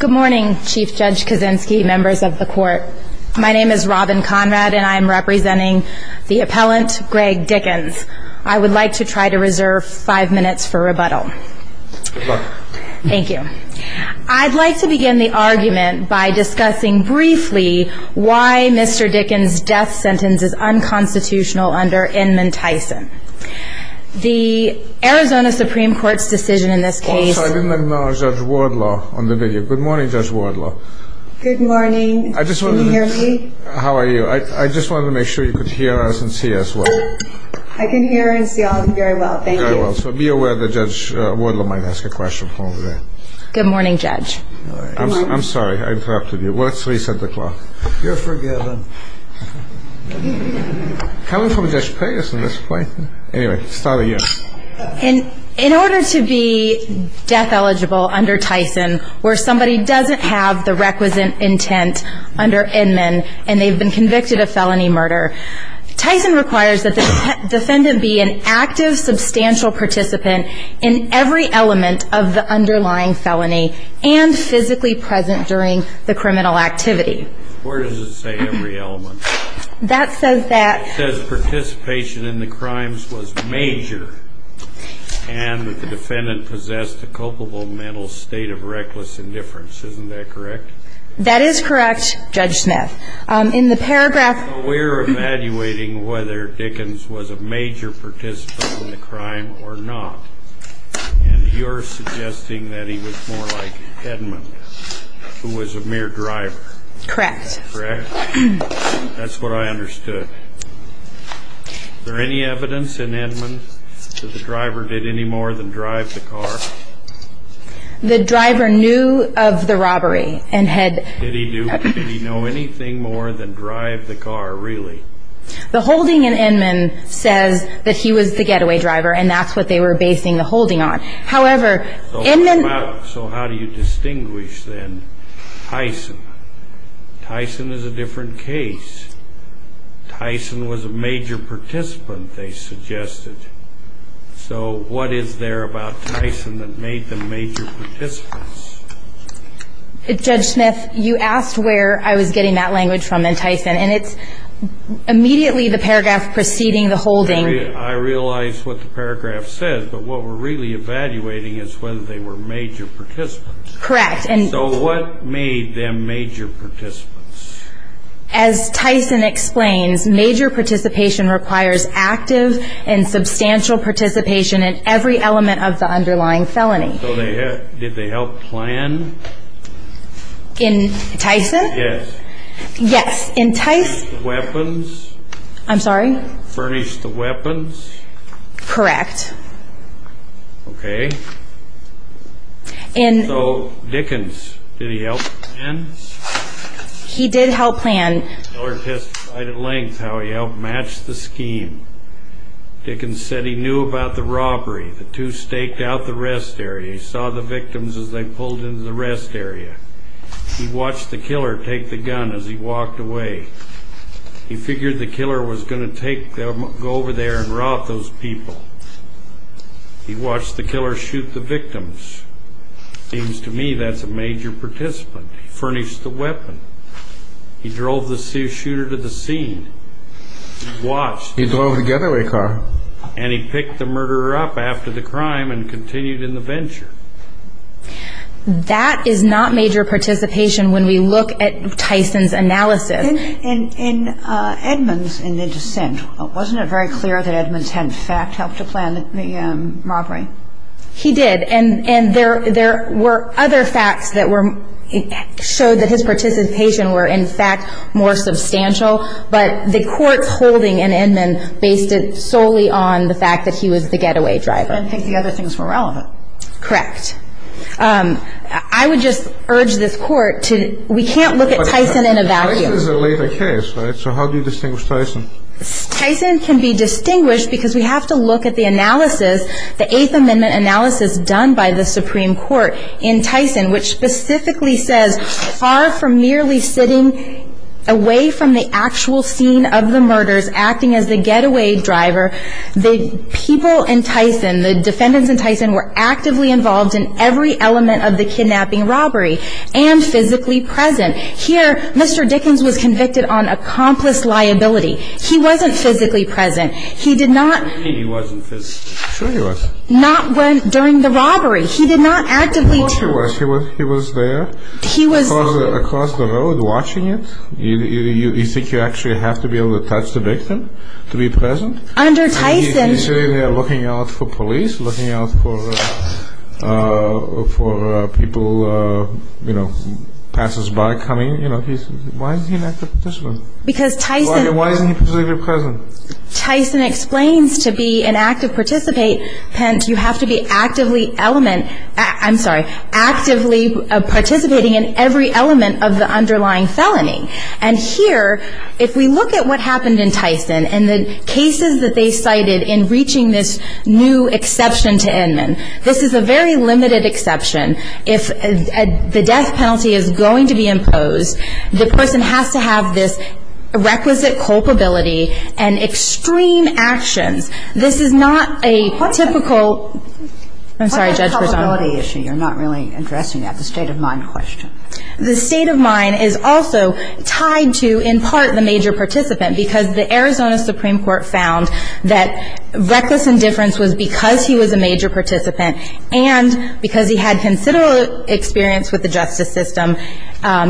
Good morning, Chief Judge Kaczynski, members of the court. My name is Robin Conrad, and I am representing the appellant, Greg Dickens. I would like to try to reserve five minutes for rebuttal. Good luck. Thank you. I'd like to begin the argument by discussing briefly why Mr. Dickens' death sentence is unconstitutional under Inman Tyson. The Arizona Supreme Court's decision in this case... I'm sorry, I didn't recognize Judge Wardlaw on the video. Good morning, Judge Wardlaw. Good morning. Can you hear me? How are you? I just wanted to make sure you could hear us and see us well. I can hear and see all of you very well. Thank you. Very well. So be aware that Judge Wardlaw might ask a question from over there. Good morning, Judge. I'm sorry. I interrupted you. We're at 3 o'clock. You're forgiven. How are we supposed to play this at this point? Anyway, follow you. In order to be death eligible under Tyson where somebody doesn't have the requisite intent under Inman and they've been convicted of felony murder, Tyson requires that the defendant be an active, substantial participant in every element of the underlying felony and physically present during the criminal activity. Where does it say every element? That says that... And the defendant possessed a culpable mental state of reckless indifference. Isn't that correct? That is correct, Judge Smith. In the paragraph... We're evaluating whether Dickens was a major participant in the crime or not. And you're suggesting that he was more like Edmond, who was a mere driver. Correct. Correct? That's what I understood. Is there any evidence in Inman that the driver did any more than drive the car? The driver knew of the robbery and had... Did he know anything more than drive the car, really? The holding in Inman says that he was the getaway driver, and that's what they were basing the holding on. However, Inman... So how do you distinguish, then, Tyson? Tyson is a different case. Tyson was a major participant, they suggested. So what is there about Tyson that made them major participants? Judge Smith, you asked where I was getting that language from in Tyson, and it's immediately the paragraph preceding the holding. I realize what the paragraph says, but what we're really evaluating is whether they were major participants. Correct. So what made them major participants? As Tyson explains, major participation requires active and substantial participation in every element of the underlying felony. So did they help plan? In Tyson? Yes. Yes. In Tyson... Furnish the weapons? I'm sorry? Furnish the weapons? Correct. Okay. So Dickens, did he help plan? He did help plan. The killer testified at length how he helped match the scheme. Dickens said he knew about the robbery. The two staked out the rest area. He saw the victims as they pulled into the rest area. He watched the killer take the gun as he walked away. He figured the killer was going to go over there and rob those people. He watched the killer shoot the victims. Seems to me that's a major participant. Furnish the weapon. He drove the shooter to the scene. He watched. He drove a getaway car. And he picked the murderer up after the crime and continued in the venture. That is not major participation when we look at Tyson's analysis. In Edmonds, in the descent, wasn't it very clear that Edmonds had, in fact, helped to plan the robbery? He did. And there were other facts that showed that his participation were, in fact, more substantial. But the court's holding in Edmonds based it solely on the fact that he was the getaway driver. I think the other things were relevant. Correct. I would just urge this court to... So how do you distinguish Tyson? Tyson can be distinguished because we have to look at the analysis, the Eighth Amendment analysis done by the Supreme Court in Tyson, which specifically says far from merely sitting away from the actual scene of the murders, acting as the getaway driver, the people in Tyson, the defendants in Tyson were actively involved in every element of the kidnapping robbery and physically present. Here, Mr. Dickens was convicted on accomplished liability. He wasn't physically present. He did not... She didn't mean he wasn't physically. Sure he wasn't. Not during the robbery. He did not actively... He was there. He was... Across the road watching it. You think you actually have to be able to touch the victim to be present? Under Tyson... You say they're looking out for police, looking out for people, you know, passers-by coming, you know. Why is he not physically present? Because Tyson... Why isn't he physically present? Tyson explains to be an active participate, hence you have to be actively element... I'm sorry, actively participating in every element of the underlying felony. And here, if we look at what happened in Tyson and the cases that they cited in reaching this new exception to Edmund, this is a very limited exception. If the death penalty is going to be imposed, the person has to have this requisite culpability and extreme action. This is not a typical... What is the culpability issue? You're not really addressing that. The state of mind question. The state of mind is also tied to, in part, the major participant, because the Arizona Supreme Court found that reckless indifference was because he was a major participant and because he had considerable experience with the justice system.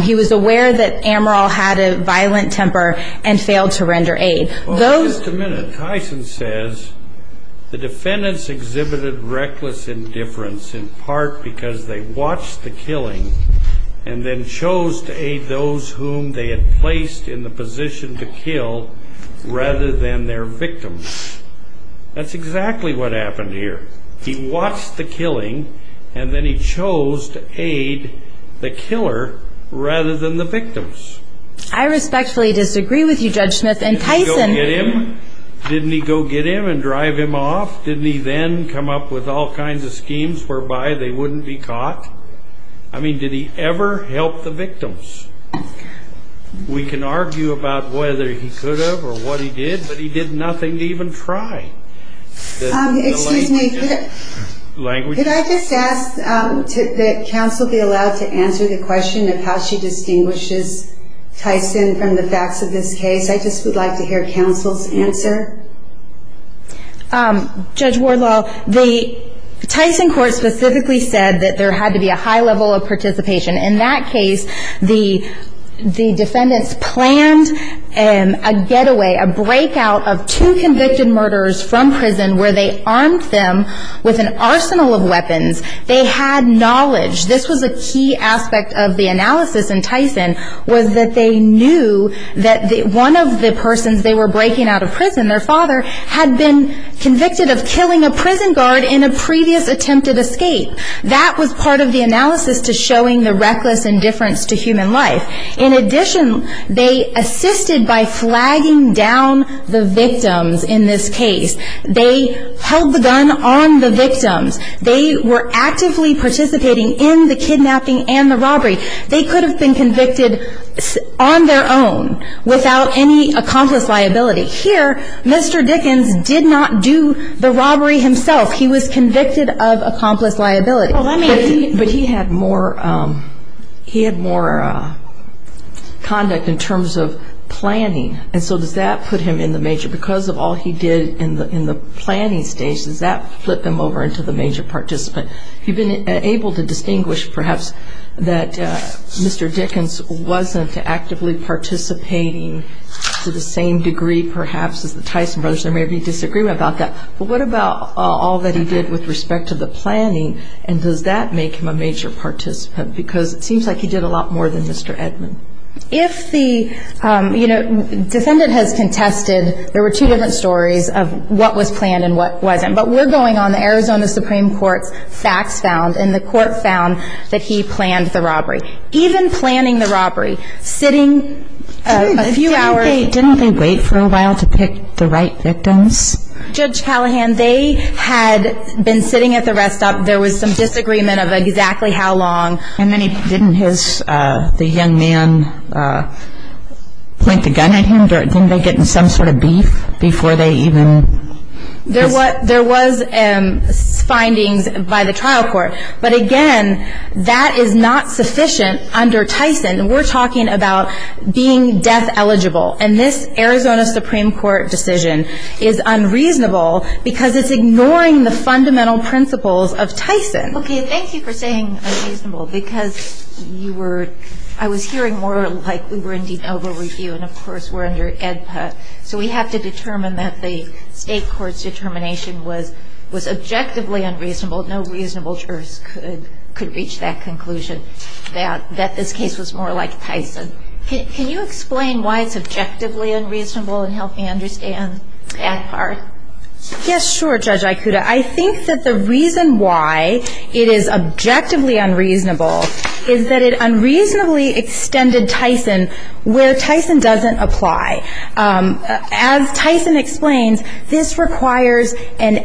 He was aware that Amaral had a violent temper and failed to render aid. Just a minute. As Tyson says, the defendants exhibited reckless indifference in part because they watched the killing and then chose to aid those whom they had placed in the position to kill rather than their victims. That's exactly what happened here. He watched the killing and then he chose to aid the killer rather than the victims. I respectfully disagree with you, Judge Smith. Didn't he go get him? Didn't he go get him and drive him off? Didn't he then come up with all kinds of schemes whereby they wouldn't be caught? I mean, did he ever help the victims? We can argue about whether he could have or what he did, but he did nothing to even try. Excuse me. Could I just ask that counsel be allowed to answer the question of how she distinguishes Tyson from the facts of this case? I just would like to hear counsel's answer. Judge Wardlaw, the Tyson court specifically said that there had to be a high level of participation. In that case, the defendants planned a getaway, a breakout of two convicted murderers from prison where they armed them with an arsenal of weapons. They had knowledge. This was a key aspect of the analysis in Tyson was that they knew that one of the persons they were breaking out of prison, their father, had been convicted of killing a prison guard in a previous attempted escape. That was part of the analysis to showing the reckless indifference to human life. In addition, they assisted by flagging down the victims in this case. They held the gun on the victims. They were actively participating in the kidnapping and the robbery. They could have been convicted on their own without any accomplice liability. Here, Mr. Dickens did not do the robbery himself. He was convicted of accomplice liability. But he had more conduct in terms of planning, and so does that put him in the major? Because of all he did in the planning stage, does that flip him over into the major participant? You've been able to distinguish, perhaps, that Mr. Dickens wasn't actively participating to the same degree, perhaps, as the Tyson brothers. Or maybe you disagree about that. But what about all that he did with respect to the planning, and does that make him a major participant? Because it seems like he did a lot more than Mr. Edmond. If the defendant has contested, there were two different stories of what was planned and what wasn't. But we're going on the Arizona Supreme Court facts found, and the court found that he planned the robbery. Even planning the robbery, sitting a few hours. Didn't they wait for a while to pick the right victims? Judge Callahan, they had been sitting at the rest stop. There was some disagreement of exactly how long. And didn't the young man point the gun at him? Didn't they get in some sort of beef before they even? There was findings by the trial court. But, again, that is not sufficient under Tyson. We're talking about being death eligible. And this Arizona Supreme Court decision is unreasonable because it's ignoring the fundamental principles of Tyson. Okay, thank you for saying unreasonable. Because you were, I was hearing more like we were indeed over review, and, of course, we're under EDPA. So we have to determine that the state court's determination was objectively unreasonable. No reasonable jurors could reach that conclusion that this case was more like Tyson. Can you explain why it's objectively unreasonable and help me understand that part? Yes, sure, Judge Ikuda. I think that the reason why it is objectively unreasonable is that it unreasonably extended Tyson where Tyson doesn't apply. As Tyson explains, this requires an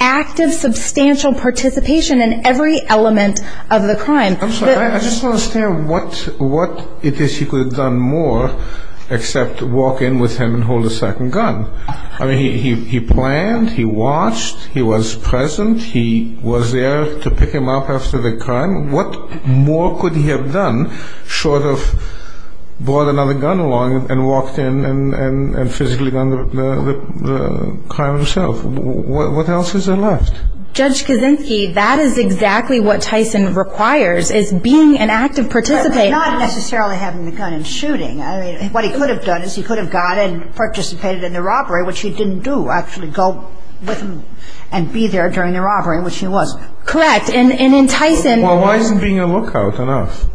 active, substantial participation in every element of the crime. I just want to say what it is he could have done more except walk in with him and hold a certain gun. I mean, he planned, he watched, he was present, he was there to pick him up after the crime. What more could he have done short of brought another gun along and walked in and physically done the crime himself? What else is there left? Judge Kaczynski, that is exactly what Tyson requires is being an active participant. Not necessarily having the gun and shooting. What he could have done is he could have gone and participated in the robbery, which he didn't do, actually go with him and be there during the robbery, which he was. Correct. And in Tyson... Well, why isn't being a lookout enough?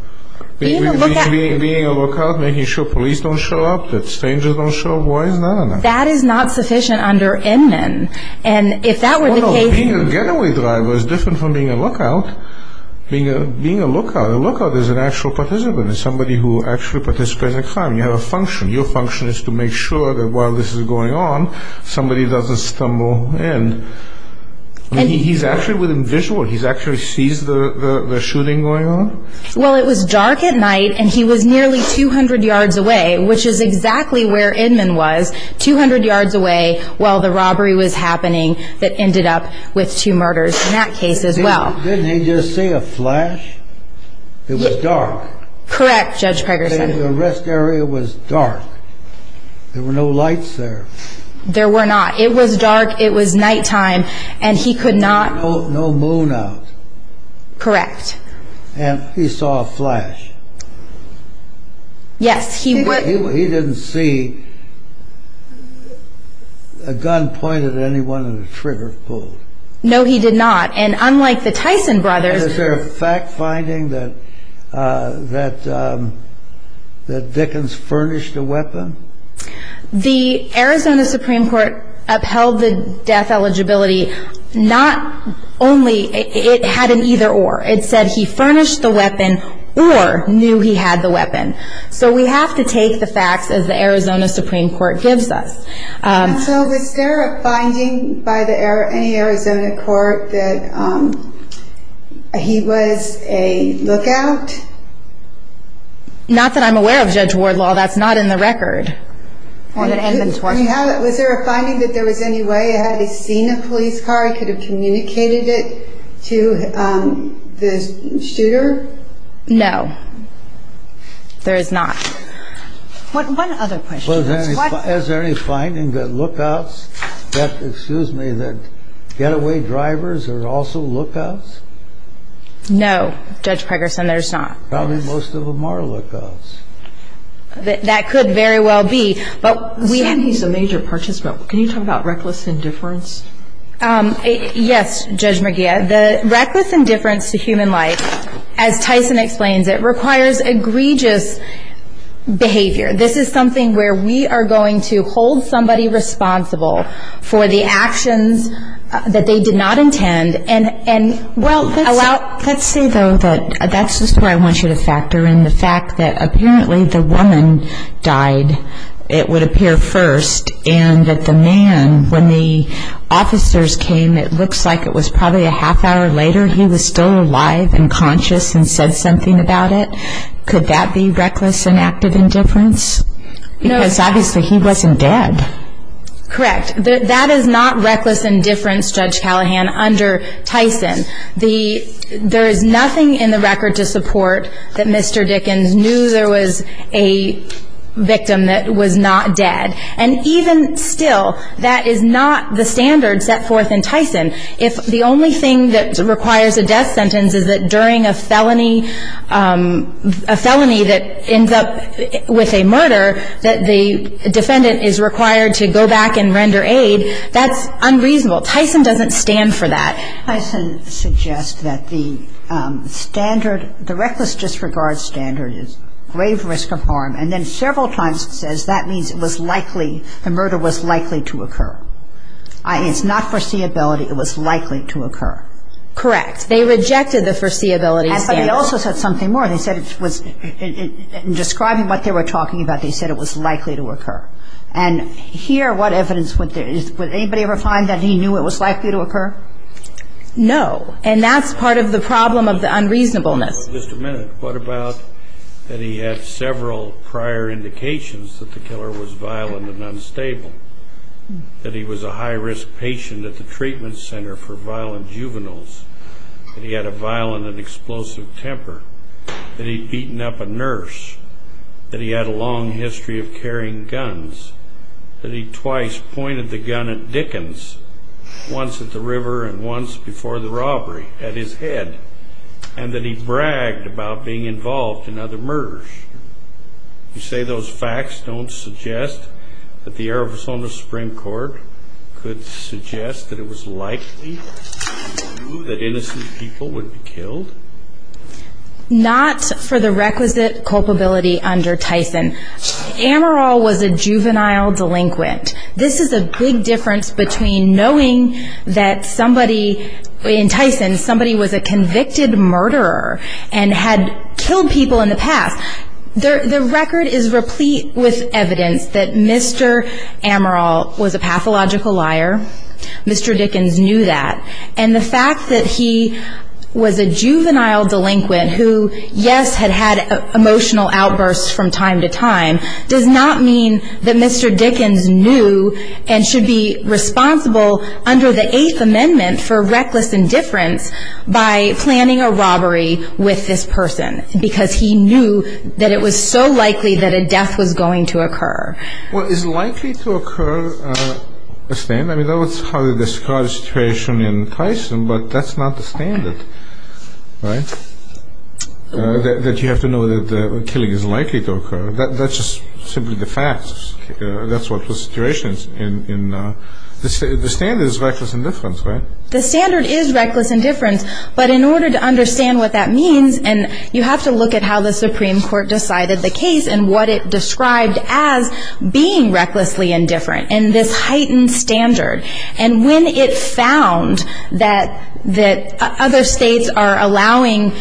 Being a lookout... Being a lookout, making sure police don't show up, that strangers don't show up, why is that enough? That is not sufficient under Inman. And if that was the case... Being a getaway driver is different from being a lookout. Being a lookout, a lookout is an actual participant. It's somebody who actually participates in the crime. You have a function. Your function is to make sure that while this is going on, somebody doesn't stumble in. He's actually within visual. He actually sees the shooting going on? Well, it was dark at night and he was nearly 200 yards away, which is exactly where Inman was, 200 yards away while the robbery was happening that ended up with two murders in that case as well. Didn't he just see a flash? It was dark. Correct, Judge Ferguson. The rest area was dark. There were no lights there. There were not. It was dark. It was nighttime. And he could not... No moon out. Correct. And he saw a flash. Yes. He didn't see a gun pointed at anyone and a trigger pulled. No, he did not. And unlike the Tyson brothers... Is there a fact finding that Dickens furnished a weapon? The Arizona Supreme Court upheld the death eligibility not only... It had an either or. It said he furnished the weapon or knew he had the weapon. So we have to take the facts as the Arizona Supreme Court gives us. So was there a finding by the Arizona court that he was a lookout? Not that I'm aware of, Judge Wardlaw. That's not in the record. Was there a finding that there was any way he had seen a police car, could have communicated it to the shooter? No, there is not. One other question. Is there any finding that lookouts, excuse me, that getaway drivers are also lookouts? No, Judge Ferguson. Probably most of them are lookouts. That could very well be. But we think he's a major participant. Can you talk about reckless indifference? Yes, Judge McGeer. The reckless indifference to human life, as Tyson explains it, requires egregious behavior. This is something where we are going to hold somebody responsible for the actions that they did not intend. Let's say, though, that's just where I want you to factor in the fact that apparently the woman died, it would appear, first, and that the man, when the officers came, it looks like it was probably a half hour later, he was still alive and conscious and said something about it. Could that be reckless and active indifference? Because obviously he wasn't dead. Correct. That is not reckless indifference, Judge Callahan, under Tyson. There is nothing in the record to support that Mr. Dickens knew there was a victim that was not dead. And even still, that is not the standard set forth in Tyson. If the only thing that requires a death sentence is that during a felony that ends up with a murder, that the defendant is required to go back and render aid, that's unreasonable. Tyson doesn't stand for that. Tyson suggests that the standard, the reckless disregard standard is grave risk of harm, and then several times says that means it was likely, the murder was likely to occur. It's not foreseeability, it was likely to occur. Correct. They rejected the foreseeability of death. But they also said something more. They said it was, in describing what they were talking about, they said it was likely to occur. And here, what evidence would there be? Would anybody ever find that he knew it was likely to occur? No. And that's part of the problem of the unreasonableness. Just a minute. What about that he had several prior indications that the killer was violent and unstable, that he was a high-risk patient at the treatment center for violent juveniles, that he had a violent and explosive temper, that he'd beaten up a nurse, that he had a long history of carrying guns, that he twice pointed the gun at Dickens, once at the river and once before the robbery, at his head, and that he bragged about being involved in other murders. You say those facts don't suggest that the Arizona Supreme Court could suggest that it was likely? That innocent people would be killed? Not for the requisite culpability under Tyson. Amaral was a juvenile delinquent. This is a big difference between knowing that somebody, in Tyson, somebody was a convicted murderer and had killed people in the past. The record is replete with evidence that Mr. Amaral was a pathological liar. Mr. Dickens knew that. And the fact that he was a juvenile delinquent who, yes, had had emotional outbursts from time to time, does not mean that Mr. Dickens knew and should be responsible under the Eighth Amendment for reckless indifference by planning a robbery with this person because he knew that it was so likely that a death was going to occur. Well, is likely to occur a standard? I mean, that would probably describe the situation in Tyson, but that's not the standard, right? That you have to know that the killing is likely to occur. That's just simply the facts. That's what the situation's in. The standard is reckless indifference, right? The standard is reckless indifference, but in order to understand what that means, and you have to look at how the Supreme Court decided the case and what it described as being recklessly indifferent, and this heightened standard. And when it's found that other states are allowing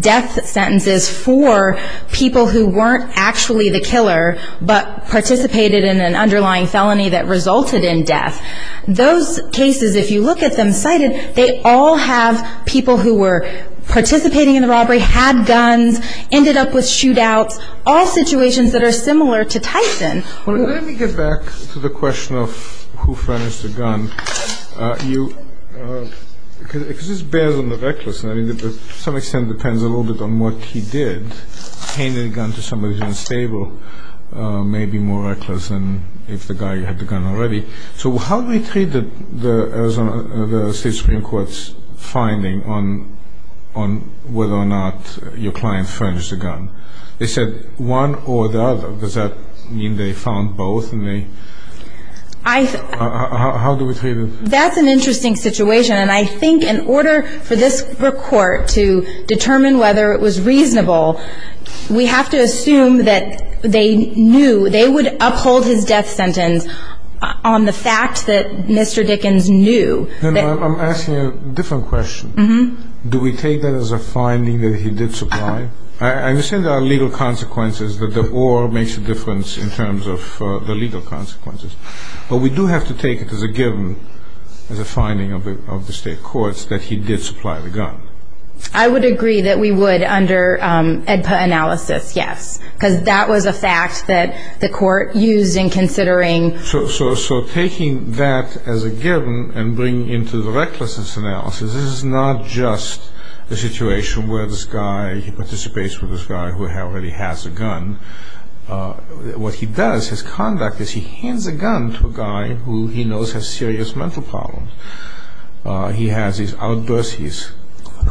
death sentences for people who weren't actually the killer but participated in an underlying felony that resulted in death, those cases, if you look at them cited, they all have people who were participating in the robbery, had guns, ended up with shootouts, all situations that are similar to Tyson. Let me get back to the question of who furnished the gun. Because this bears on the recklessness. I mean, to some extent it depends a little bit on what he did. Handing a gun to somebody who's unstable may be more reckless than if the guy who had the gun already. So how do we treat the state Supreme Court's finding on whether or not your client furnished a gun? They said one or the other. Does that mean they found both? How do we treat it? That's an interesting situation, and I think in order for this court to determine whether it was reasonable, we have to assume that they knew, they would uphold his death sentence on the fact that Mr. Dickens knew. I'm asking a different question. Do we take that as a finding that he did supply? I understand there are legal consequences, but the or makes a difference in terms of the legal consequences. But we do have to take it as a given, as a finding of the state courts, that he did supply the gun. I would agree that we would under AEDPA analysis, yes, because that was a fact that the court used in considering. So taking that as a given and bringing it into the recklessness analysis, this is not just a situation where this guy participates with this guy who already has a gun. What he does, his conduct is he hands a gun to a guy who he knows has serious mental problems. He has these outbursts, he's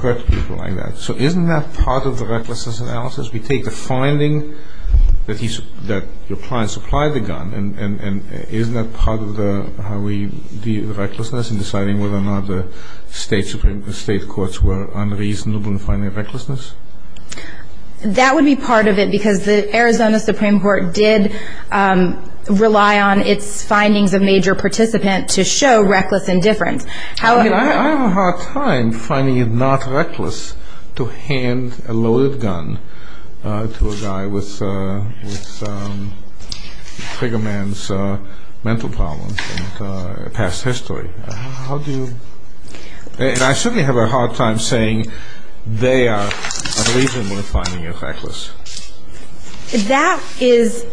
hurt people like that. So isn't that part of the recklessness analysis? We take a finding that your client supplied the gun, and isn't that part of how we deal with recklessness in deciding whether or not the state courts were unreasonable in finding recklessness? That would be part of it, because the Arizona Supreme Court did rely on its findings of major participants to show reckless indifference. I have a hard time finding it not reckless to hand a loaded gun to a guy with a trigger man's mental problems in past history. And I certainly have a hard time saying they are unreasonable in finding it reckless. That is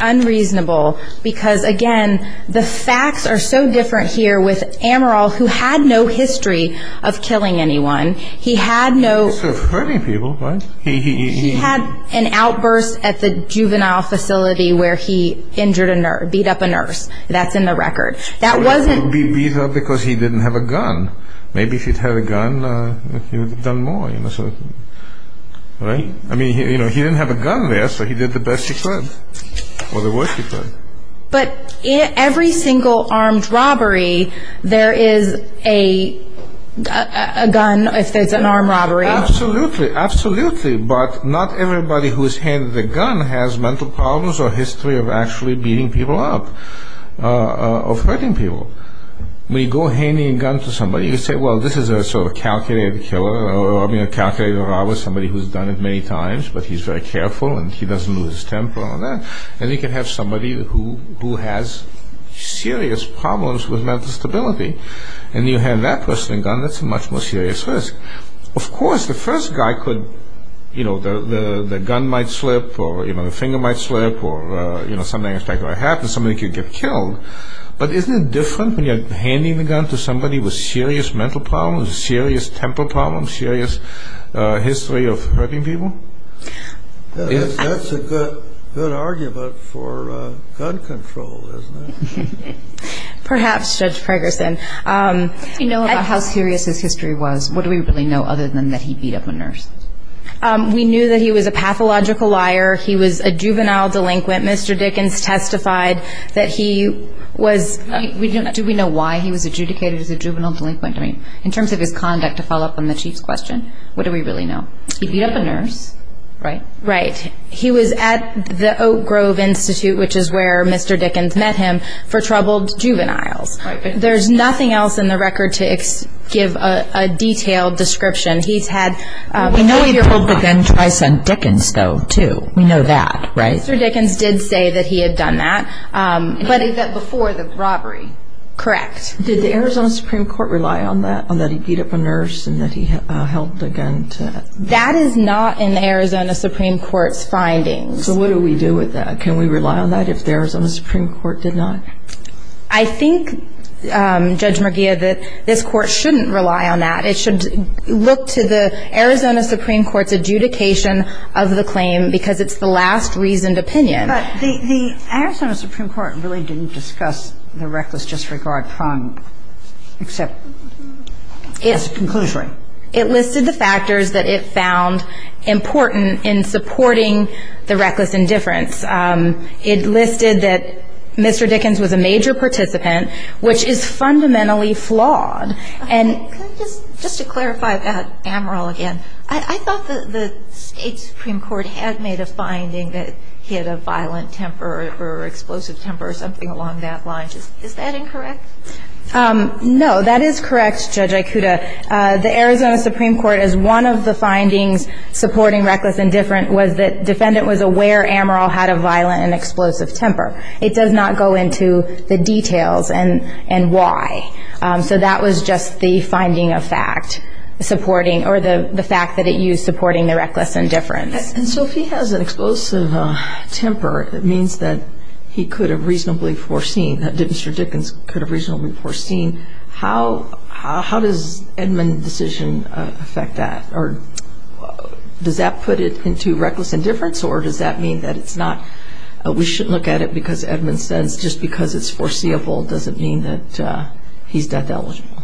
unreasonable because, again, the facts are so different here with Amaral, who had no history of killing anyone. He had an outburst at the juvenile facility where he injured a nurse, beat up a nurse. That's in the record. That wouldn't be because he didn't have a gun. Maybe if he'd had a gun, he would have done more. I mean, he didn't have a gun, but he did the best he could, or the worst he could. But in every single armed robbery, there is a gun if there's an armed robbery. Absolutely, absolutely. But not everybody who is handed a gun has mental problems or a history of actually beating people up or hurting people. When you go handing a gun to somebody, you say, well, this is a sort of calculated killer, I mean, a calculated robber, somebody who's done it many times, but he's very careful and he doesn't lose his temper and all that. And you can have somebody who has serious problems with mental stability, and you hand that person a gun, that's a much more serious risk. Of course, the first guy could, you know, the gun might slip or, you know, the finger might slip or, you know, something like that could happen, somebody could get killed. But isn't it different when you're handing a gun to somebody with serious mental problems, serious temper problems, serious history of hurting people? That's a good argument for gun control, isn't it? Perhaps, Judge Ferguson. If we know about how serious his history was, what do we really know other than that he beat up a nurse? We knew that he was a pathological liar, he was a juvenile delinquent. Mr. Dickens testified that he was – Do we know why he was adjudicated as a juvenile delinquent? I mean, in terms of his conduct, to follow up on the Chief's question, what do we really know? He beat up a nurse, right? Right. He was at the Oak Grove Institute, which is where Mr. Dickens met him, for troubled juveniles. There's nothing else in the record to give a detailed description. He's had – We know he'd have held the gun twice on Dickens, though, too. We know that, right? Mr. Dickens did say that he had done that. But he said before that it was robbery. Correct. Did the Arizona Supreme Court rely on that, on that he beat up a nurse and that he held a gun to – That is not an Arizona Supreme Court finding. So what do we do with that? Can we rely on that if the Arizona Supreme Court did not? I think, Judge McGeehan, that this Court shouldn't rely on that. It should look to the Arizona Supreme Court's adjudication of the claim because it's the last reasoned opinion. But the Arizona Supreme Court really didn't discuss the reckless disregard crime, except its conclusion. It listed the factors that it found important in supporting the reckless indifference. It listed that Mr. Dickens was a major participant, which is fundamentally flawed. And – Just to clarify about Amaral again, I thought the state Supreme Court had made a finding that he had a violent temper or explosive temper or something along that line. Is that incorrect? No, that is correct, Judge Ikuda. The Arizona Supreme Court, as one of the findings supporting reckless indifference, was that the defendant was aware Amaral had a violent and explosive temper. It does not go into the details and why. So that was just the finding of fact supporting – or the fact that it used supporting the reckless indifference. So if he has an explosive temper, that means that he could have reasonably foreseen, that Mr. Dickens could have reasonably foreseen. How does Edmund's decision affect that? Or does that put it into reckless indifference, or does that mean that it's not – we shouldn't look at it because Edmund said just because it's foreseeable doesn't mean that he's that delusional?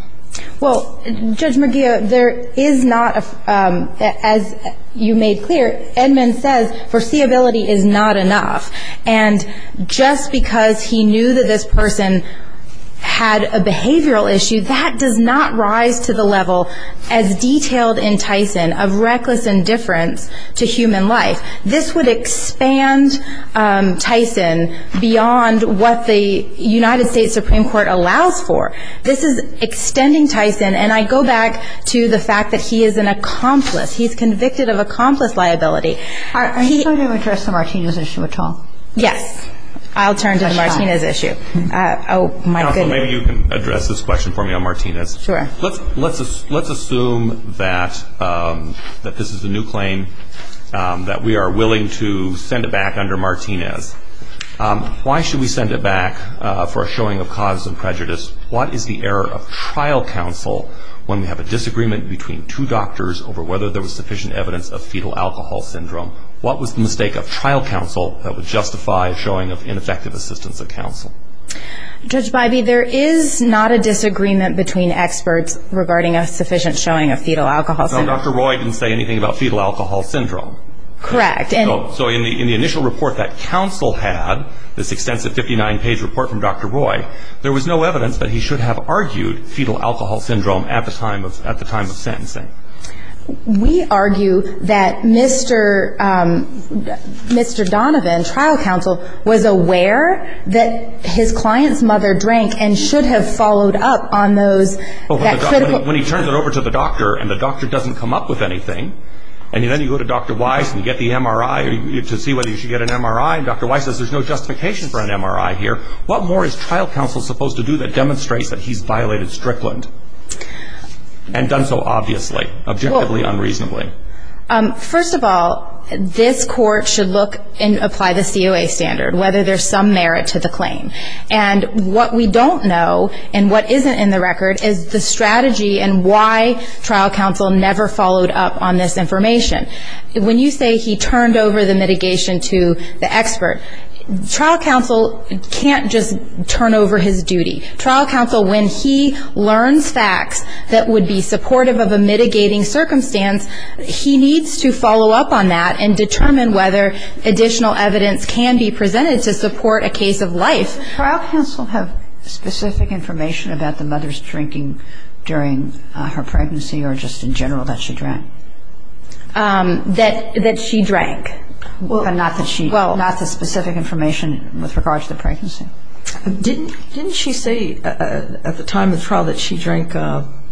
Well, Judge Medina, there is not – as you made clear, Edmund says foreseeability is not enough. And just because he knew that this person had a behavioral issue, that does not rise to the level as detailed in Tyson of reckless indifference to human life. This would expand Tyson beyond what the United States Supreme Court allows for. This is extending Tyson, and I go back to the fact that he is an accomplice. He's convicted of accomplice liability. Are you trying to address the Martinez issue at all? Yes. I'll turn to the Martinez issue. Oh, my goodness. Maybe you can address this question for me on Martinez. Sure. Let's assume that this is a new claim, that we are willing to send it back under Martinez. Why should we send it back for a showing of cause and prejudice? What is the error of trial counsel when we have a disagreement between two doctors over whether there was sufficient evidence of fetal alcohol syndrome? What was the mistake of trial counsel that would justify showing of ineffective assistance to counsel? Judge Bybee, there is not a disagreement between experts regarding a sufficient showing of fetal alcohol syndrome. So Dr. Roy didn't say anything about fetal alcohol syndrome. Correct. So in the initial report that counsel had, this extensive 59-page report from Dr. Roy, there was no evidence that he should have argued fetal alcohol syndrome at the time of sentencing. We argue that Mr. Donovan, trial counsel, was aware that his client's mother drank and should have followed up on those. When he turns it over to the doctor and the doctor doesn't come up with anything, and then you go to Dr. Weiss and get the MRI to see whether you should get an MRI, and Dr. Weiss says there's no justification for an MRI here, what more is trial counsel supposed to do to demonstrate that he's violated Strickland and done so obviously, objectively, unreasonably? First of all, this court should look and apply the COA standard, whether there's some merit to the claim. And what we don't know and what isn't in the record is the strategy and why trial counsel never followed up on this information. When you say he turned over the mitigation to the expert, trial counsel can't just turn over his duty. Trial counsel, when he learns facts that would be supportive of a mitigating circumstance, he needs to follow up on that and determine whether additional evidence can be presented to support a case of life. Does trial counsel have specific information about the mother's drinking during her pregnancy or just in general that she drank? That she drank. Well, not the specific information with regard to the pregnancy. Didn't she say at the time of the trial that she drank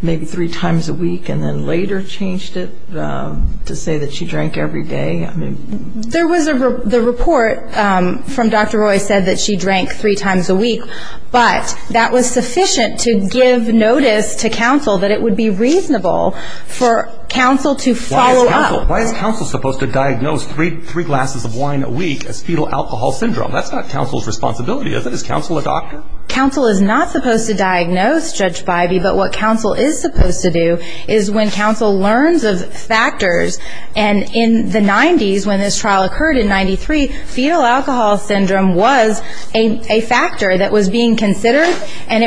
maybe three times a week and then later changed it to say that she drank every day? There was a report from Dr. Roy said that she drank three times a week, but that was sufficient to give notice to counsel that it would be reasonable for counsel to follow up. Why is counsel supposed to diagnose three glasses of wine a week as fetal alcohol syndrome? That's not counsel's responsibility, is it? Is counsel a doctor? Counsel is not supposed to diagnose, Judge Bidey, but what counsel is supposed to do is when counsel learns of factors and in the 90s when this trial occurred in 93, fetal alcohol syndrome was a factor that was being considered and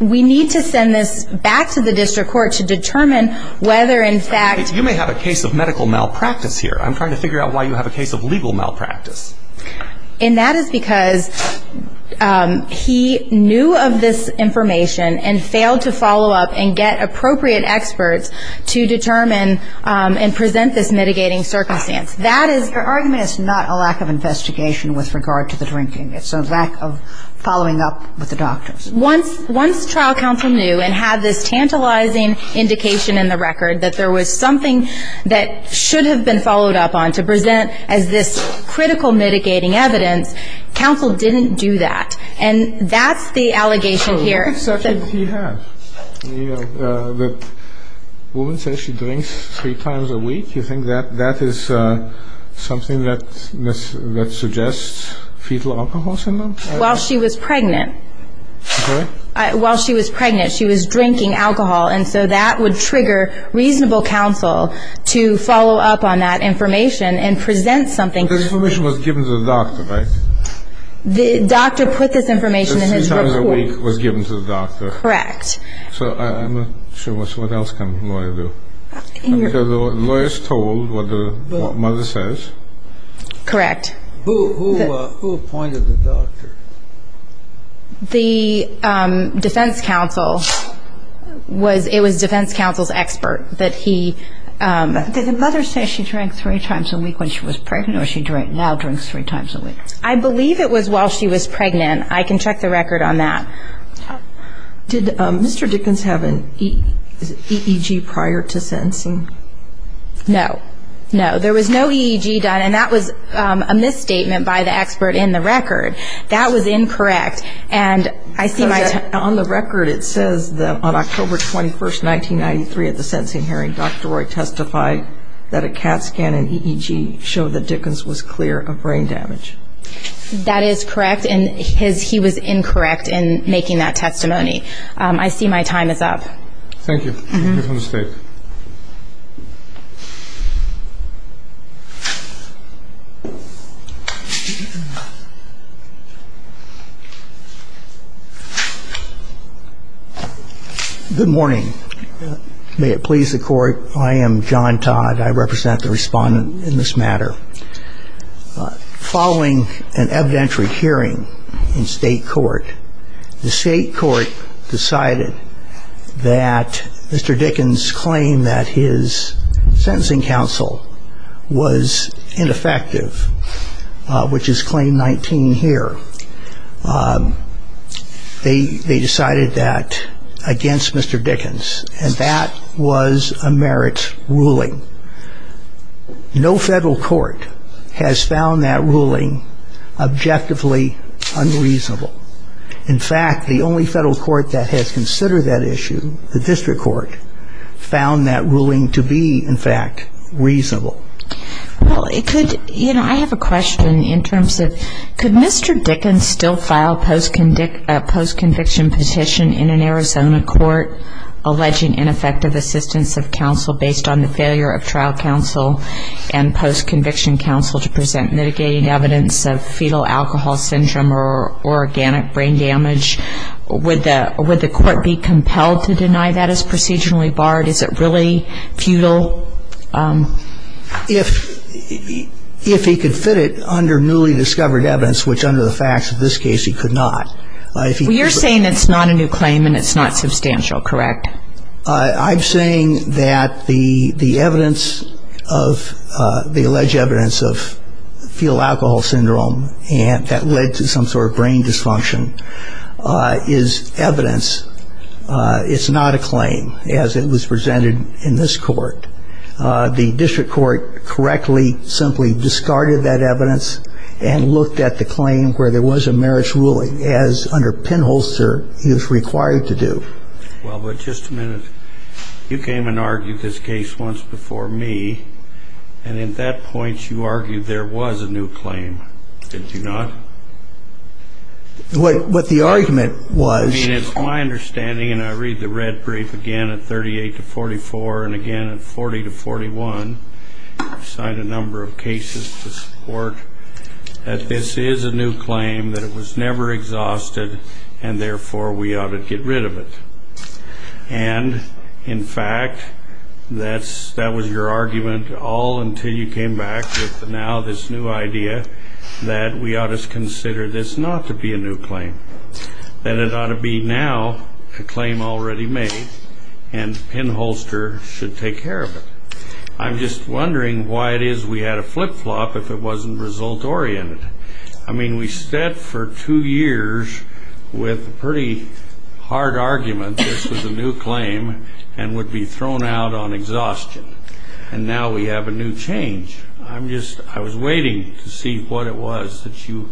we need to send this back to the district court to determine whether in fact... You may have a case of medical malpractice here. I'm trying to figure out why you have a case of legal malpractice. And that is because he knew of this information and failed to follow up and get appropriate experts to determine and present this mitigating circumstance. That is... Your argument is not a lack of investigation with regard to the drinking. It's a lack of following up with the doctors. Once trial counsel knew and had this tantalizing indication in the record that there was something that should have been followed up on to present as this critical mitigating evidence, counsel didn't do that and that's the allegation here. The woman says she drinks three times a week. You think that that is something that suggests fetal alcohol syndrome? While she was pregnant. While she was pregnant she was drinking alcohol and so that would trigger reasonable counsel to follow up on that information and present something. This information was given to the doctor, right? The doctor put this information in his report. It was given to the doctor. Correct. So I'm not sure, what else can a lawyer do? A lawyer is told what the mother says. Correct. Who appointed the doctor? The defense counsel. It was defense counsel's expert that he... Did the mother say she drank three times a week when she was pregnant or she now drinks three times a week? I believe it was while she was pregnant. I can check the record on that. Did Mr. Dickens have an EEG prior to sentencing? No. No, there was no EEG done and that was a misstatement by the expert in the record. That was incorrect and I think... On the record it says that on October 21st, 1993 at the sentencing hearing, Dr. Roy testified that a CAT scan and EEG showed that Dickens was clear of brain damage. That is correct and he was incorrect in making that testimony. I see my time is up. Thank you. Mr. Dickens. Good morning. May it please the court. I am John Todd. I represent the respondent in this matter. Following an evidentiary hearing in state court, the state court decided that Mr. Dickens' claim that his sentencing counsel was ineffective, which is claim 19 here. They decided that against Mr. Dickens and that was a merit ruling. No federal court has found that ruling objectively unreasonable. In fact, the only federal court that has considered that issue, the district court, found that ruling to be, in fact, reasonable. I have a question in terms of, could Mr. Dickens still file a post-conviction petition in an Arizona court alleging ineffective assistance of counsel based on the failure of trial counsel and post-conviction counsel to present mitigated evidence of fetal alcohol syndrome or organic brain damage? Would the court be compelled to deny that as procedurally barred? Is it really futile? If he could fit it under newly discovered evidence, which under the facts of this case he could not. You're saying it's not a new claim and it's not substantial, correct? I'm saying that the evidence of the alleged evidence of fetal alcohol syndrome that led to some sort of brain dysfunction is evidence. It's not a claim as it was presented in this court. The district court correctly simply discarded that evidence and looked at the claim where there was a marriage ruling as, under pinholster, he was required to do. Well, but just a minute. You came and argued this case once before me, and at that point you argued there was a new claim. Did you not? What the argument was... I mean, it's my understanding, and I read the red brief again at 38 to 44, and again at 40 to 41, I cite a number of cases to support that this is a new claim, that it was never exhausted, and therefore we ought to get rid of it. And, in fact, that was your argument all until you came back with now this new idea that we ought to consider this not to be a new claim, that it ought to be now a claim already made, and pinholster should take care of it. I'm just wondering why it is we had a flip-flop if it wasn't result-oriented. I mean, we stood for two years with a pretty hard argument this was a new claim and would be thrown out on exhaustion, and now we have a new change. I was waiting to see what it was that you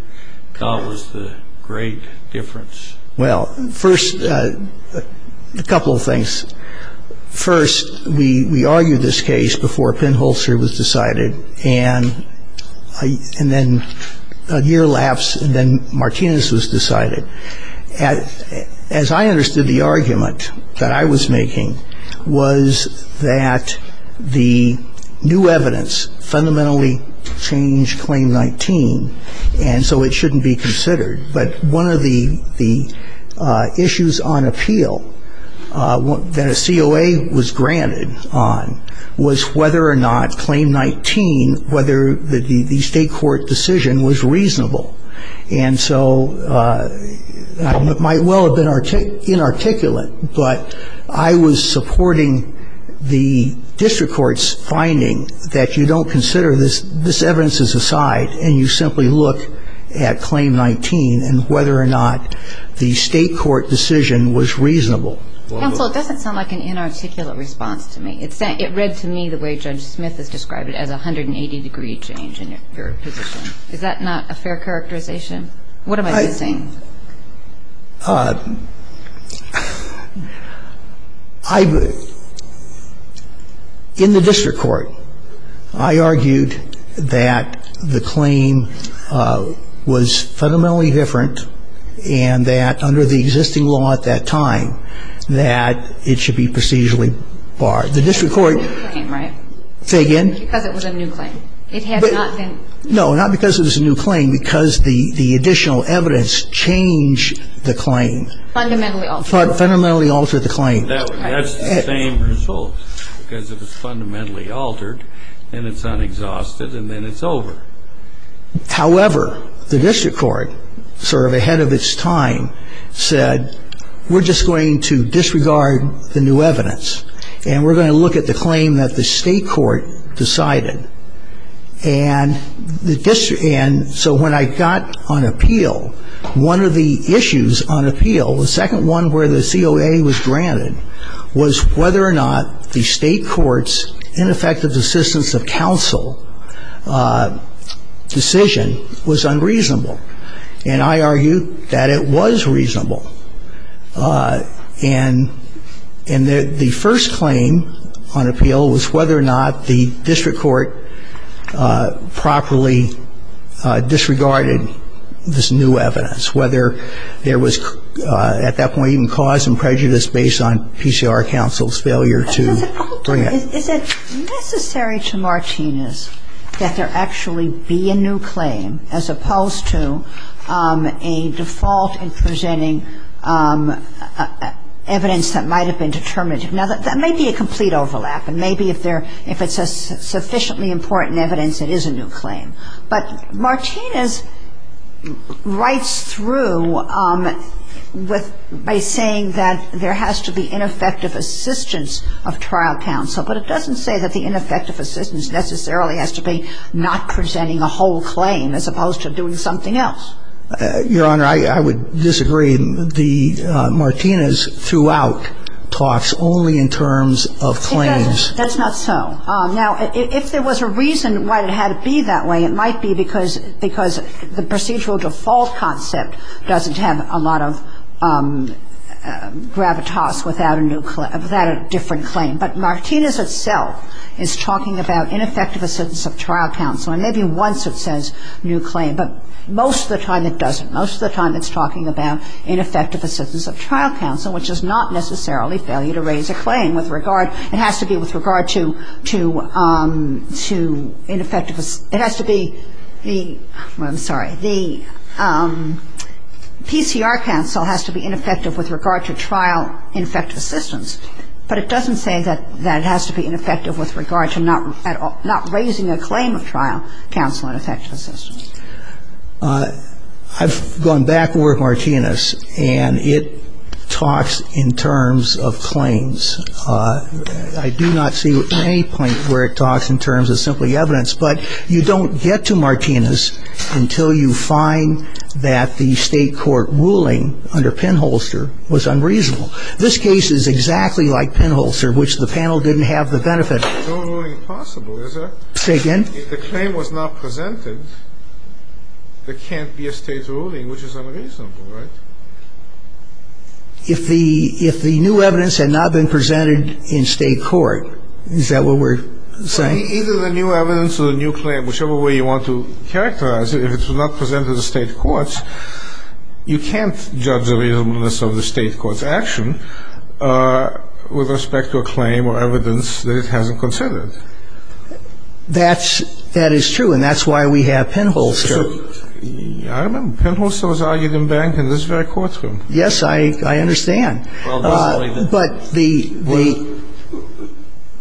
thought was the great difference. Well, first, a couple of things. First, we argued this case before pinholster was decided, and then a year lapsed and then Martinez was decided. As I understood the argument that I was making was that the new evidence fundamentally changed Claim 19, and so it shouldn't be considered. But one of the issues on appeal that a COA was granted on was whether or not Claim 19, whether the state court decision was reasonable. And so it might well have been inarticulate, but I was supporting the district court's finding that you don't consider this evidence as a side and you simply look at Claim 19 and whether or not the state court decision was reasonable. Well, it doesn't sound like an inarticulate response to me. It read to me the way Judge Smith has described it as a 180-degree change in its verification. Is that not a fair characterization? What am I missing? In the district court, I argued that the claim was fundamentally different and that under the existing law at that time that it should be procedurally barred. The district court, say again? Because it was a new claim. It had not been. No, not because it was a new claim, because the additional evidence changed the claim. Fundamentally altered. Fundamentally altered the claim. That's the same result, because it was fundamentally altered and it's not exhausted and then it's over. However, the district court, sort of ahead of its time, said we're just going to disregard the new evidence and we're going to look at the claim that the state court decided. And so when I got on appeal, one of the issues on appeal, the second one where the COA was granted, was whether or not the state court's ineffective assistance of counsel decision was unreasonable. And I argued that it was reasonable. And the first claim on appeal was whether or not the district court properly disregarded this new evidence, whether there was at that point even cause and prejudice based on PCR counsel's failure to bring it. Is it necessary to Martinez that there actually be a new claim as opposed to a default in presenting evidence that might have been determinative? Now, that may be a complete overlap. And maybe if it's a sufficiently important evidence, it is a new claim. But Martinez writes through by saying that there has to be ineffective assistance of trial counsel. But it doesn't say that the ineffective assistance necessarily has to be not presenting a whole claim as opposed to doing something else. Your Honor, I would disagree. The Martinez throughout talks only in terms of claims. That's not so. Now, if there was a reason why it had to be that way, it might be because the procedural default concept doesn't have a lot of gravitas without a different claim. But Martinez itself is talking about ineffective assistance of trial counsel. And maybe once it says new claim. But most of the time it doesn't. Most of the time it's talking about ineffective assistance of trial counsel, which is not necessarily failure to raise a claim. It has to be with regard to ineffective assistance. It has to be the PCR counsel has to be ineffective with regard to trial ineffective assistance. But it doesn't say that it has to be ineffective with regard to not raising a claim of trial counsel ineffective assistance. I've gone back with Martinez, and it talks in terms of claims. I do not see any point where it talks in terms of simply evidence. But you don't get to Martinez until you find that the state court ruling under Penholster was unreasonable. This case is exactly like Penholster, which the panel didn't have the benefits. No ruling is possible, is it? Say again? If the claim was not presented, there can't be a state ruling which is unreasonable, right? If the new evidence had not been presented in state court, is that what we're saying? Either the new evidence or the new claim, whichever way you want to characterize it, if it's not presented in state courts, you can't judge the reasonableness of the state court's action with respect to a claim or evidence that it hasn't considered. That is true, and that's why we have Penholster. I don't know. Penholster was argued in Barrington. This is very courtroom. Yes, I understand. But the.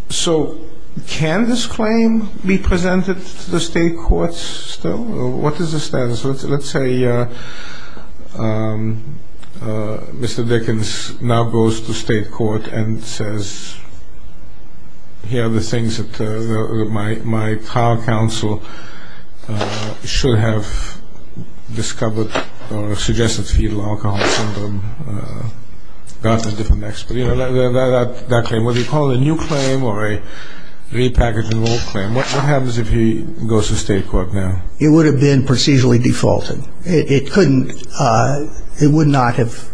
So can this claim be presented to the state courts? What is the status? Let's say Mr. Vickens now goes to state court and says, here are the things that my car counsel should have discovered or suggested to you, alcohol syndrome. That's a different expert. You know, that claim, what do you call it? A new claim or a repackaged enrolled claim? What happens if he goes to state court now? It would have been procedurally defaulted. It couldn't. It would not have.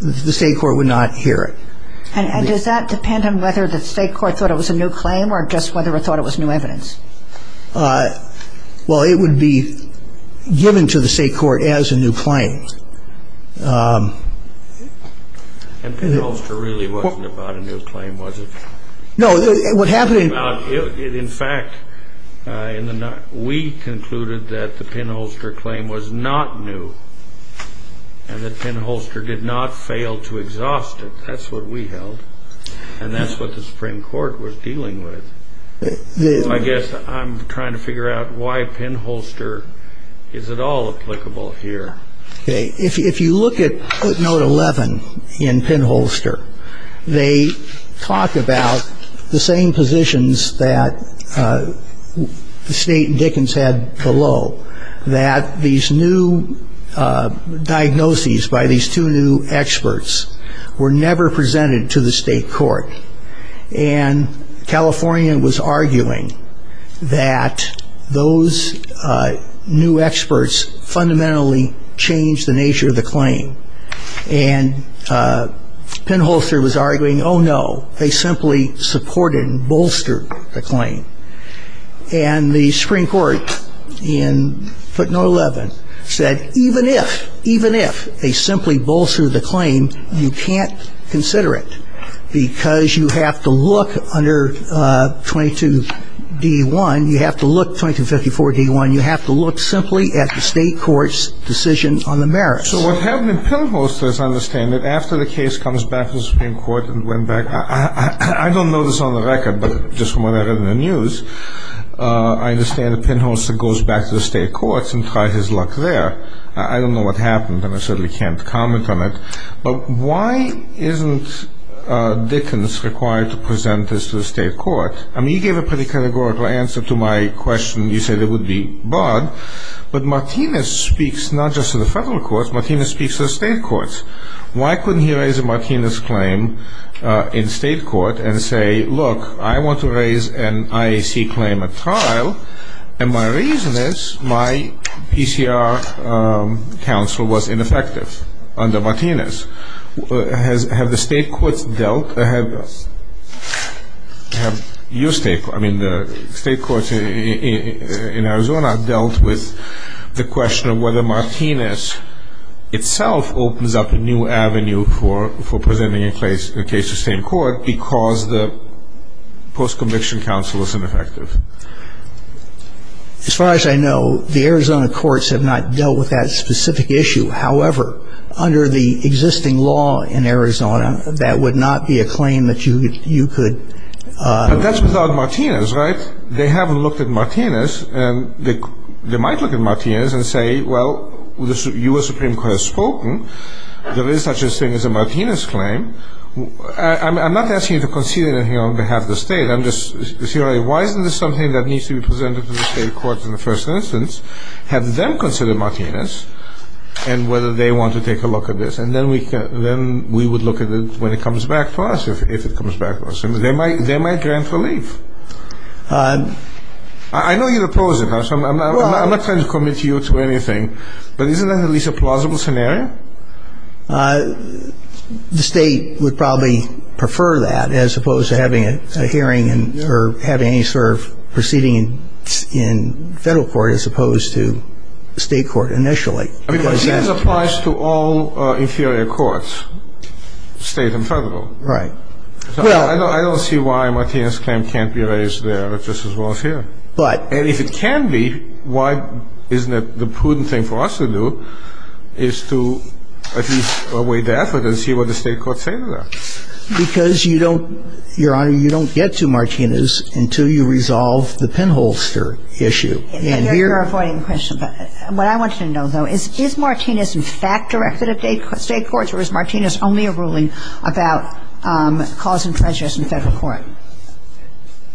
The state court would not hear it. And does that depend on whether the state court thought it was a new claim or just whatever thought it was new evidence? Well, it would be given to the state court as a new claim. And Penholster really wasn't about a new claim, was it? No, it was happening. In fact, we concluded that the Penholster claim was not new. And the Penholster did not fail to exhaust it. That's what we held. And that's what the Supreme Court was dealing with. I guess I'm trying to figure out why Penholster is at all applicable here. If you look at footnote 11 in Penholster, they talk about the same positions that State and Dickens had below, that these new diagnoses by these two new experts were never presented to the state court. And California was arguing that those new experts fundamentally changed the nature of the claim. And Penholster was arguing, oh, no, they simply supported and bolstered the claim. And the Supreme Court in footnote 11 said, even if, even if they simply bolstered the claim, you can't consider it because you have to look under 22 D1. You have to look 2254 D1. You have to look simply at the state court's decision on the merits. So what happened in Penholster, as I understand it, after the case comes back to the Supreme Court and went back, I don't know this on the record, but just from what I read in the news, I understand that Penholster goes back to the state courts and tried his luck there. I don't know what happened, and I certainly can't comment on it. But why isn't Dickens required to present this to the state court? I mean, you gave a pretty categorical answer to my question. You said it would be barred. But Martinez speaks not just to the federal courts. Martinez speaks to the state courts. Why couldn't he raise a Martinez claim in state court and say, look, I want to raise an IAC claim at trial, and my reason is my PCR counsel was ineffective under Martinez. Have the state courts dealt, I mean, the state courts in Arizona dealt with the question of whether there was a new avenue for presenting a case to state court because the post-conviction counsel was ineffective. As far as I know, the Arizona courts have not dealt with that specific issue. However, under the existing law in Arizona, that would not be a claim that you could – But that's without Martinez, right? They haven't looked at Martinez. They might look at Martinez and say, well, the U.S. Supreme Court has spoken. There is such a thing as a Martinez claim. I'm not asking you to concede anything on behalf of the state. I'm just saying, why isn't this something that needs to be presented to the state courts in the first instance? Have them consider Martinez and whether they want to take a look at this. And then we would look at it when it comes back to us, if it comes back to us. And they might grant relief. I know you oppose it. I'm not trying to commit you to anything. But isn't that at least a plausible scenario? The state would probably prefer that as opposed to having a hearing or having any sort of proceeding in federal court as opposed to state court initially. Because this applies to all inferior courts, state and federal. Right. I don't see why Martinez can't be raised there. But if it can be, why isn't it the prudent thing for us to do is to at least see what the state courts say to that? Because you don't get to Martinez until you resolve the pinhole issue. What I want you to know, though, is Martinez in fact directed at state courts? Or is Martinez only a ruling about cause and prejudice in federal court?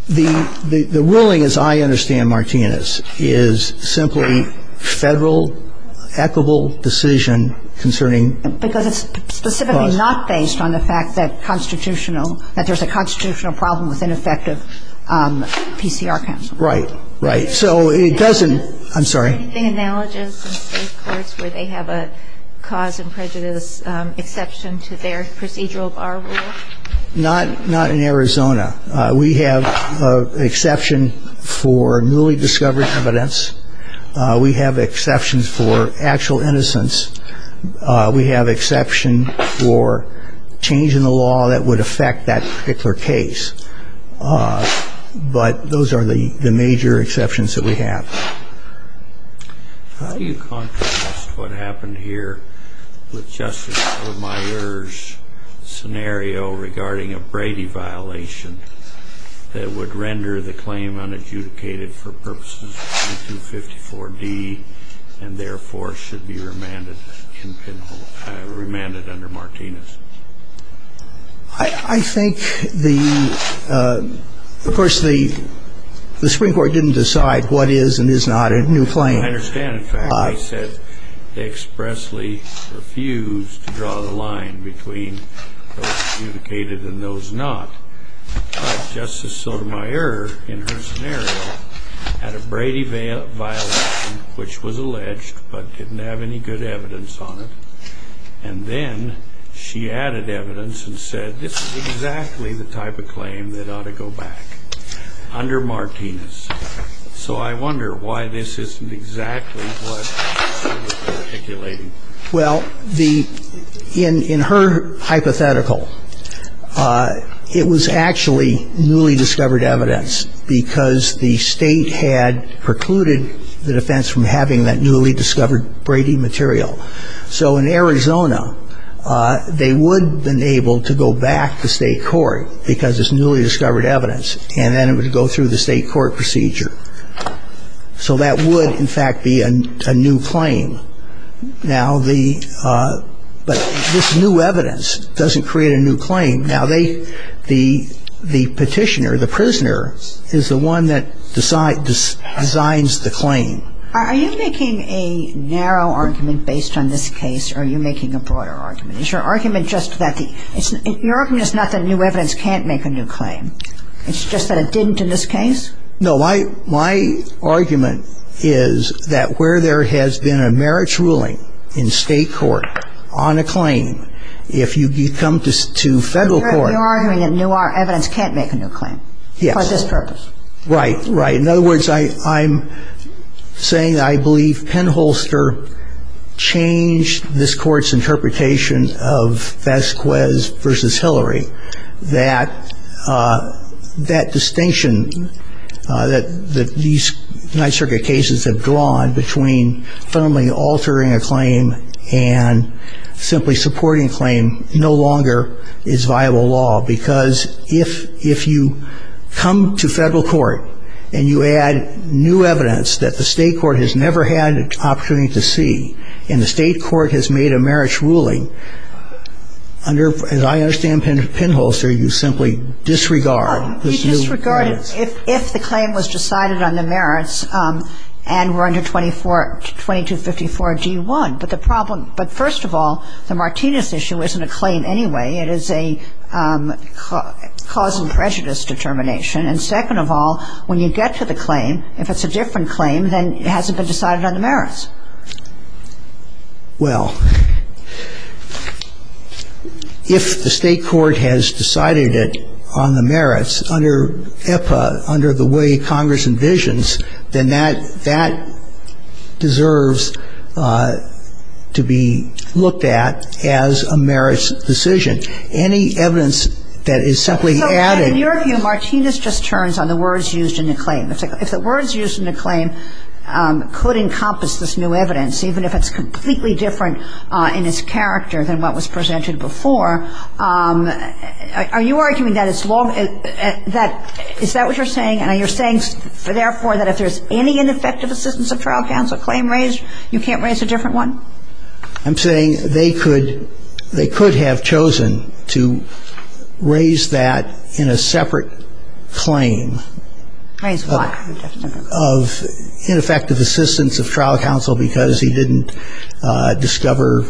The ruling, as I understand Martinez, is simply federal, equitable decision concerning. Because it's specifically not based on the fact that constitutional, that there's a constitutional problem with ineffective PCR counts. Right. Right. So it doesn't. I'm sorry. In state courts where they have a cause and prejudice exception to their procedural bar rule? Not not in Arizona. We have an exception for newly discovered evidence. We have exceptions for actual innocence. We have exception for change in the law that would affect that particular case. But those are the major exceptions that we have. How do you contrast what happened here with Justice Vermeier's scenario regarding a Brady violation that would render the claim unadjudicated for purposes of 254D and therefore should be remanded under Martinez? I think the, of course, the Supreme Court didn't decide what is and is not a new claim. I understand. In fact, they expressly refused to draw the line between those adjudicated and those not. Justice Sotomayor, in her scenario, had a Brady violation which was alleged but didn't have any good evidence on it. And then she added evidence and said this is exactly the type of claim that ought to go back under Martinez. So I wonder why this isn't exactly what she was articulating. Well, the, in her hypothetical, it was actually newly discovered evidence because the state had precluded the defense from having that newly discovered Brady material. So in Arizona, they would have been able to go back to state court because it's newly discovered evidence. And then it would go through the state court procedure. So that would, in fact, be a new claim. Now, the, but this new evidence doesn't create a new claim. Now, they, the petitioner, the prisoner, is the one that designs the claim. Are you making a narrow argument based on this case or are you making a broader argument? Is your argument just that the, your argument is not that new evidence can't make a new claim. It's just that it didn't in this case? No, my, my argument is that where there has been a merits ruling in state court on a claim, if you come to federal court. You're arguing that new evidence can't make a new claim. Yes. For this purpose. Right, right. In other words, I, I'm saying that I believe Penn Holster changed this court's interpretation of Bezquez versus Hillary. That, that distinction that these United Circuit cases have drawn between fundamentally altering a claim and simply supporting a claim no longer is viable law. Because if, if you come to federal court and you add new evidence that the state court has never had an opportunity to see. And the state court has made a merits ruling under, as I understand Penn Holster, you simply disregard. You disregard if, if the claim was decided on the merits and were under 24, 2254 G1. But the problem, but first of all, the Martinez issue isn't a claim anyway. It is a cause and prejudice determination. And second of all, when you get to the claim, if it's a different claim, then it has to be decided on the merits. Well, if the state court has decided it on the merits under EPA, under the way Congress envisions, then that, that deserves to be looked at as a merits decision. Any evidence that is simply added. In your view, Martinez just turns on the words used in the claim. It's like, if the words used in the claim could encompass this new evidence, even if it's completely different in its character than what was presented before. Are you arguing that it's law, that, is that what you're saying? And you're saying, therefore, that if there's any ineffective assistance of trial counsel claim raised, you can't raise a different one? I'm saying they could, they could have chosen to raise that in a separate claim of ineffective assistance of trial counsel because he didn't discover,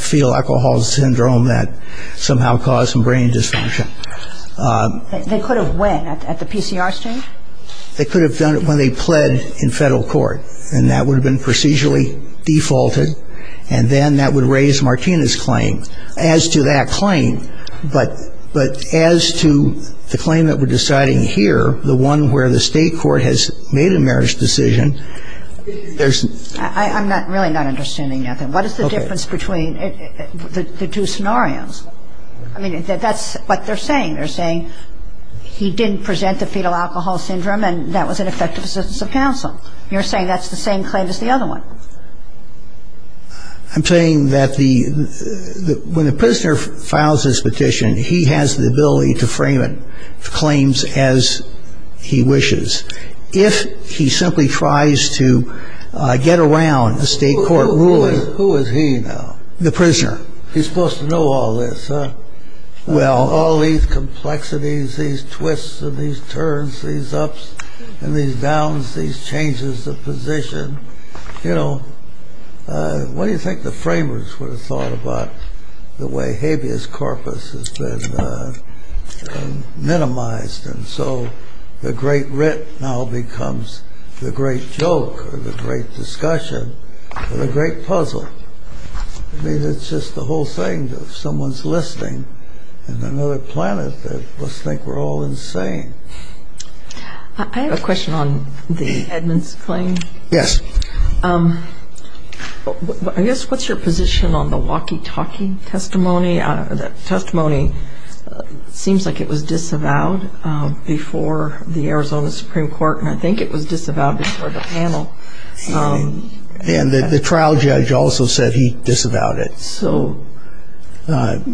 feel alcohol syndrome that somehow caused some brain dysfunction. They could have when, at the PCR stage? They could have done it when they pled in federal court. And that would have been procedurally defaulted. And then that would raise Martinez's claim. As to that claim, but, but as to the claim that we're deciding here, the one where the state court has made a merits decision, there's. I'm not, really not understanding nothing. What is the difference between the two scenarios? I mean, that's what they're saying. They're saying he didn't present the fetal alcohol syndrome and that was an effective assistance of counsel. You're saying that's the same claim as the other one. I'm saying that the, when the prisoner files his petition, he has the ability to frame it, claims as he wishes. If he simply tries to get around the state court ruling. Who is he now? The prisoner. He's supposed to know all this, huh? Well, all these complexities, these twists and these turns, these ups and these downs, these changes of position. You know, what do you think the framers would have thought about the way habeas corpus has been minimized? And so the great writ now becomes the great joke or the great discussion or the great puzzle. I mean, it's just the whole thing that someone's listening and another planet. Let's think we're all insane. I have a question on the Edmonds claim. Yes. I guess what's your position on the walkie talkie testimony? That testimony seems like it was disavowed before the Arizona Supreme Court. I think it was disavowed before the panel. And the trial judge also said he disavowed it. So.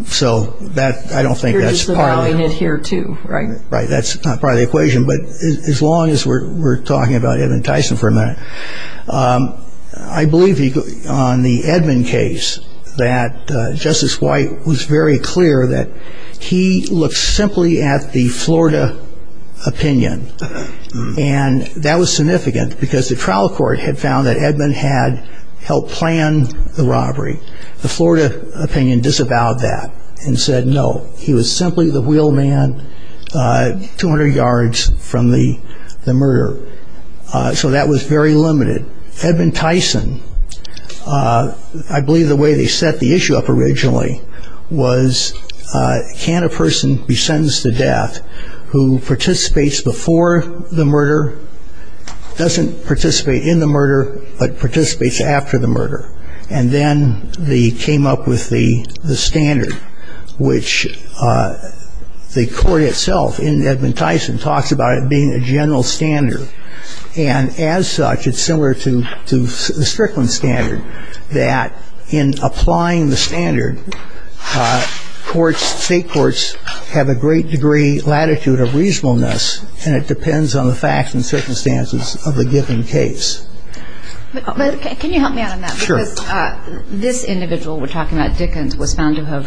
So that I don't think that's here, too. Right. Right. That's probably the equation. But as long as we're talking about it and Tyson for a minute, I believe on the Edmond case that Justice White was very clear that he looks simply at the Florida opinion. And that was significant because the trial court had found that Edmond had helped plan the robbery. The Florida opinion disavowed that and said, no, he was simply the wheel man 200 yards from the murder. So that was very limited. Edmond Tyson, I believe the way they set the issue up originally was can a person be sentenced to death who participates before the murder, doesn't participate in the murder, but participates after the murder. And then they came up with the standard, which the court itself in Edmond Tyson talks about it being a general standard. And as such, it's similar to the Strickland standard that in applying the standard, courts, state courts have a great degree latitude of reasonableness. And it depends on the facts and circumstances of the given case. But can you help me out on that? Sure. This individual we're talking about, Dickens, was found to have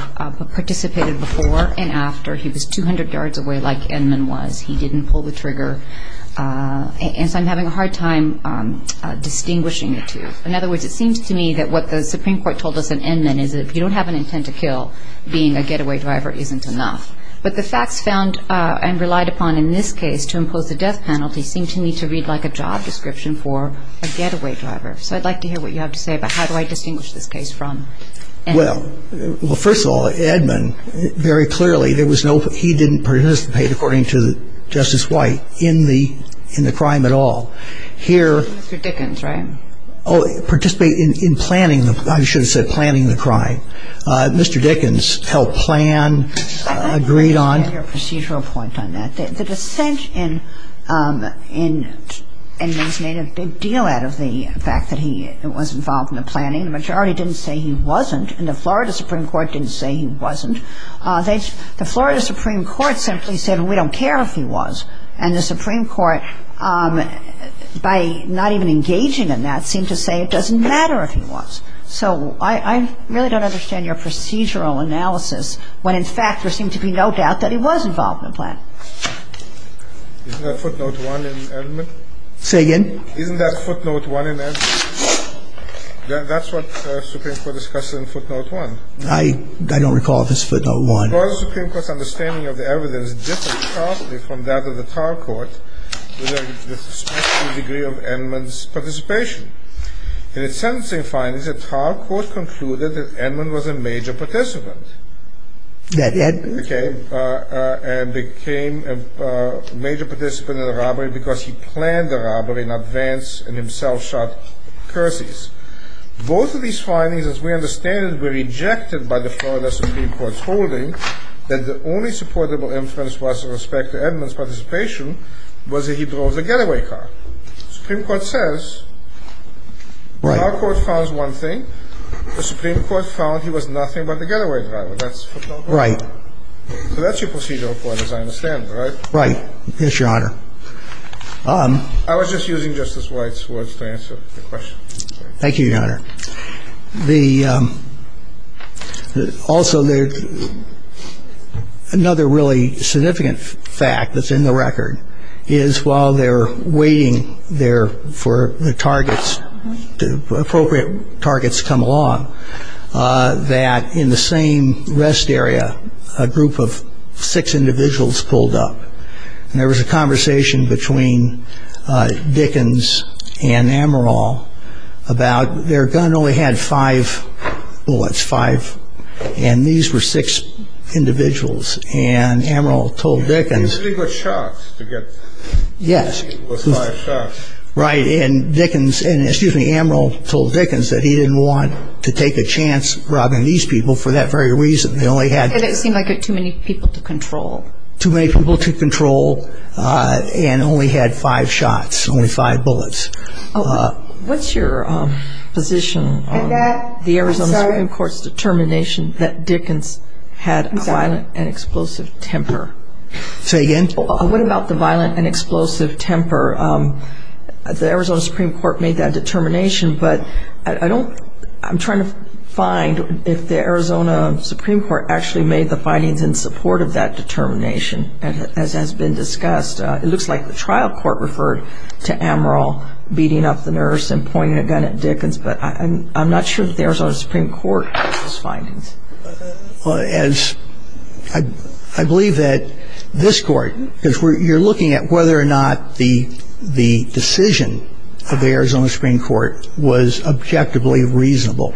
participated before and after. He was 200 yards away like Edmond was. He didn't pull the trigger. And so I'm having a hard time distinguishing the two. In other words, it seems to me that what the Supreme Court told us in Edmond is if you don't have an intent to kill, being a getaway driver isn't enough. But the facts found and relied upon in this case to impose the death penalty seem to me to read like a job description for a getaway driver. So I'd like to hear what you have to say about how do I distinguish this case from Edmond. Well, first of all, Edmond, very clearly, there was no – he didn't participate, according to Justice White, in the crime at all. Here – Mr. Dickens, right? Participated in planning – I should have said planning the crime. Mr. Dickens helped plan, agreed on – Let me make a procedural point on that. The dissent in Edmond made a big deal out of the fact that he was involved in the planning. The majority didn't say he wasn't, and the Florida Supreme Court didn't say he wasn't. The Florida Supreme Court simply said, we don't care if he was. And the Supreme Court, by not even engaging in that, seemed to say it doesn't matter if he was. So I really don't understand your procedural analysis when, in fact, there seemed to be no doubt that he was involved in the planning. Isn't that footnote one in Edmond? Say again? Isn't that footnote one in Edmond? That's what the Supreme Court discussed in footnote one. I don't recall if it's footnote one. The Florida Supreme Court's understanding of the evidence differs sharply from that of the trial court, with a suspicious degree of Edmond's participation. In its sentencing findings, the trial court concluded that Edmond was a major participant. That Ed – And became a major participant in the robbery because he planned the robbery in advance and himself shot Perseus. Both of these findings, as we understand them, were rejected by the Florida Supreme Court's holding that the only supportable inference with respect to Edmond's participation was that he drove the getaway car. The Supreme Court says, our court found one thing. The Supreme Court found he was nothing but the getaway driver. That's footnote one. Right. So that's your procedural point, as I understand it, right? Right. Yes, Your Honor. I was just using Justice White's words to answer the question. Thank you, Your Honor. Also, another really significant fact that's in the record is while they're waiting there for the targets, appropriate targets come along, that in the same rest area, a group of six individuals pulled up. And there was a conversation between Dickens and Amaral about their gun only had five bullets, five. And these were six individuals. And Amaral told Dickens. I think it was shots to get. Yes. It was five shots. Right. And Dickens and, excuse me, Amaral told Dickens that he didn't want to take a chance robbing these people for that very reason. They only had. It seemed like they had too many people to control. Too many people to control and only had five shots, only five bullets. What's your position on the Arizona Supreme Court's determination that Dickens had a violent and explosive temper? Say again? What about the violent and explosive temper? The Arizona Supreme Court made that determination. But I don't, I'm trying to find if the Arizona Supreme Court actually made the findings and supported that determination. And as has been discussed, it looks like the trial court referred to Amaral beating up the nurse and pointing a gun at Dickens. But I'm not sure that the Arizona Supreme Court heard those findings. Well, as I believe that this court, because you're looking at whether or not the decision of the Arizona Supreme Court was objectively reasonable.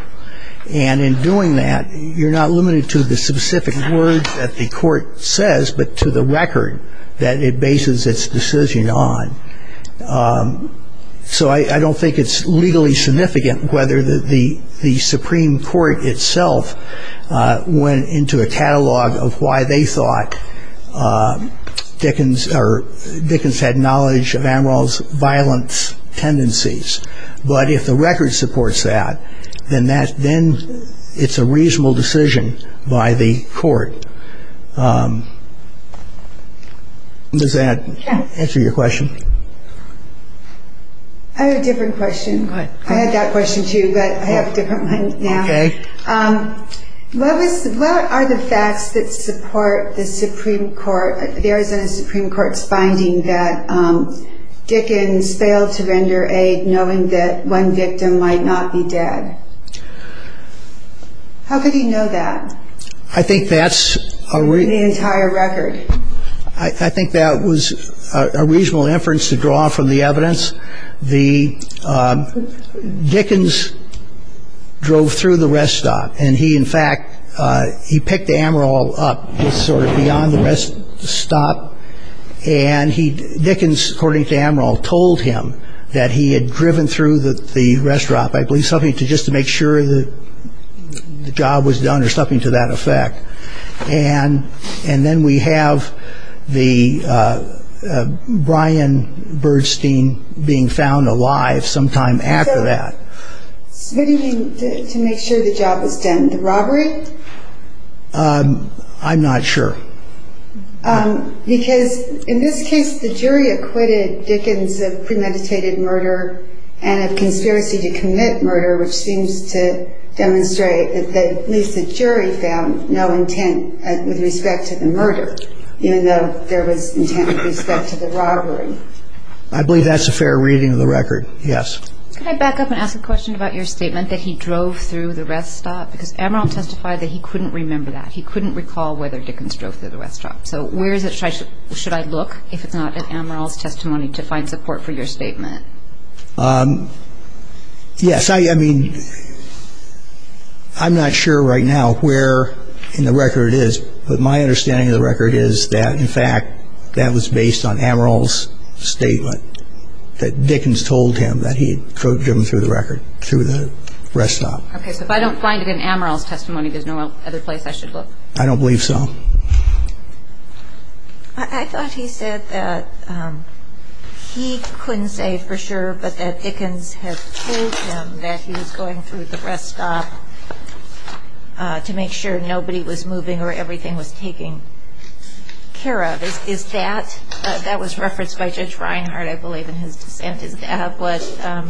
And in doing that, you're not limited to the specific words that the court says, but to the record that it bases its decision on. So I don't think it's legally significant whether the Supreme Court itself went into a catalog of why they thought Dickens or Dickens had knowledge of Amaral's violence tendencies. But if the record supports that, then that's been it's a reasonable decision by the court. Does that answer your question? I have a different question. I had that question too, but I have a different one now. Okay. What are the facts that support the Supreme Court, the Arizona Supreme Court's finding that Dickens failed to render aid knowing that one victim might not be dead? How could he know that? I think that's a reason. The entire record. I think that was a reasonable inference to draw from the evidence. The Dickens drove through the rest stop and he, in fact, he picked Amaral up just sort of beyond the rest stop. And he Dickens, according to Amaral, told him that he had driven through the rest stop, I believe, something to just to make sure that the job was done or something to that effect. And then we have the Brian Bernstein being found alive sometime after that. To make sure the job was done, the robbery? I'm not sure. Because in this case, the jury acquitted Dickens of premeditated murder and of conspiracy to commit murder, which seems to demonstrate at least the jury found no intent with respect to the murder, even though there was intent with respect to the robbery. I believe that's a fair reading of the record. Yes. Can I back up and ask a question about your statement that he drove through the rest stop? Because Amaral testified that he couldn't remember that. He couldn't recall whether Dickens drove through the rest stop. So where should I look if it's not in Amaral's testimony to find support for your statement? Yes. I mean, I'm not sure right now where in the record it is. But my understanding of the record is that, in fact, that was based on Amaral's statement that Dickens told him that he had driven through the rest stop. Okay. But if I don't find it in Amaral's testimony, there's no other place I should look. I don't believe so. I thought he said that he couldn't say for sure, but that Dickens had told him that he was going through the rest stop to make sure nobody was moving or everything was taken care of. Is that – that was referenced by Judge Reinhardt, I believe, in his sentence. Is that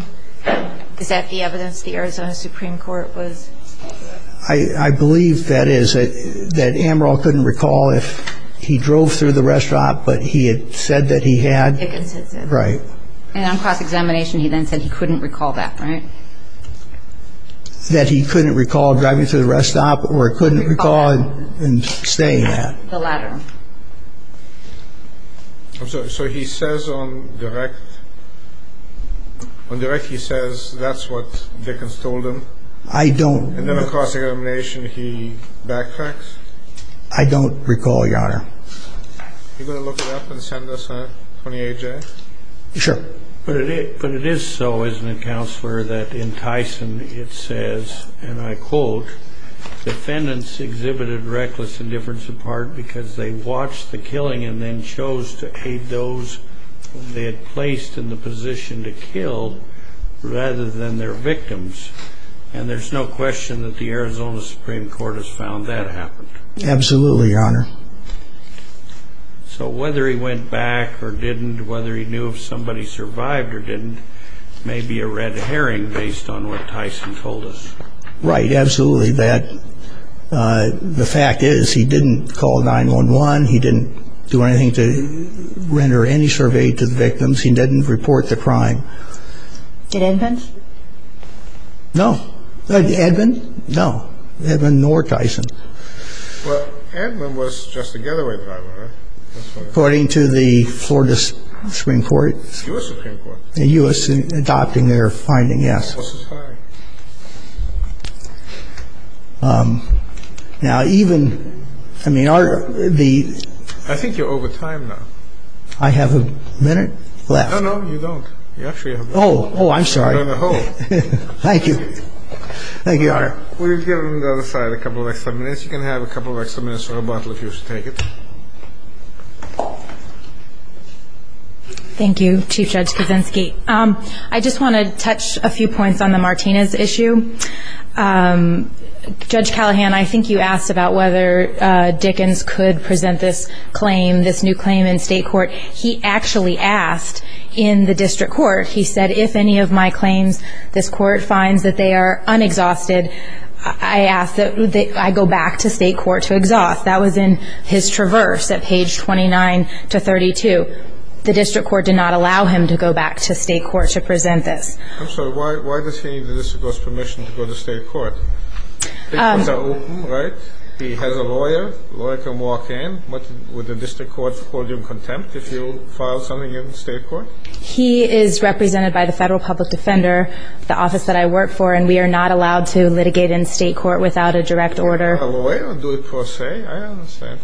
the evidence the Arizona Supreme Court was – I believe that is, that Amaral couldn't recall if he drove through the rest stop, but he had said that he had. Right. And on cross-examination, he then said he couldn't recall that, right? That he couldn't recall driving through the rest stop or couldn't recall staying there. The latter. I'm sorry. So he says on direct – on direct he says that's what Dickens told him? I don't – And then on cross-examination, he backtracks? I don't recall, Your Honor. Are you going to look it up and send us a 28-J? Sure. But it is so, isn't it, Counselor, that in Tyson it says, and I quote, defendants exhibited reckless indifference in part because they watched the killing and then chose to aid those they had placed in the position to kill rather than their victims. And there's no question that the Arizona Supreme Court has found that happened. Absolutely, Your Honor. So whether he went back or didn't, whether he knew if somebody survived or didn't, may be a red herring based on what Tyson told us. Right, absolutely, that the fact is he didn't call 911. He didn't do anything to render any survey to the victims. He didn't report the crime. Did Edmond? No. Edmond? No. Edmond nor Tyson. Well, Edmond was just a getaway driver. According to the Florida Supreme Court. The U.S. Supreme Court. The U.S. adopting their finding, yes. Now, even I mean, the I think you're over time. I have a minute left. No, no, you don't. Oh, oh, I'm sorry. Thank you. Thank you. We've got a couple of minutes. You can have a couple of extra minutes or a bottle if you take it. Thank you. I just want to touch a few points on the Martinez issue. Judge Callahan, I think you asked about whether Dickens could present this claim, this new claim in state court. He actually asked in the district court, he said, if any of my claims this court finds that they are unexhausted, I ask that I go back to state court to exhaust. That was in his traverse at page 29 to 32. The district court did not allow him to go back to state court to present this. I'm sorry, why does he need the district court's permission to go to state court? State courts are open, right? He has a lawyer. Lawyer can walk in. Would the district court hold you in contempt if you filed something in state court? He is represented by the federal public defender, the office that I work for, and we are not allowed to litigate in state court without a direct order. Well, I don't do it per se. I don't understand.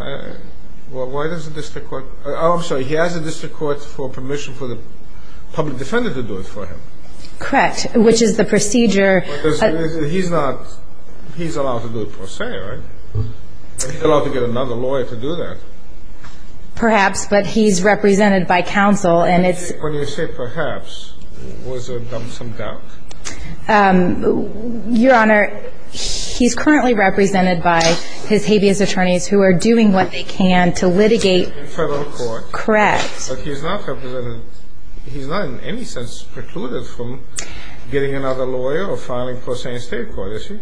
Why does the district court? Oh, I'm sorry. He asked the district court for permission for the public defender to do it for him. Correct, which is the procedure. Because he's not, he's allowed to do it per se, right? He's allowed to get another lawyer to do that. Perhaps, but he's represented by counsel and it's. When you say perhaps, was there some doubt? Your Honor, he's currently represented by his habeas attorneys who are doing what they can to litigate. In federal court. Correct. But he's not represented, he's not in any sense precluded from getting another lawyer or filing in state court, is he?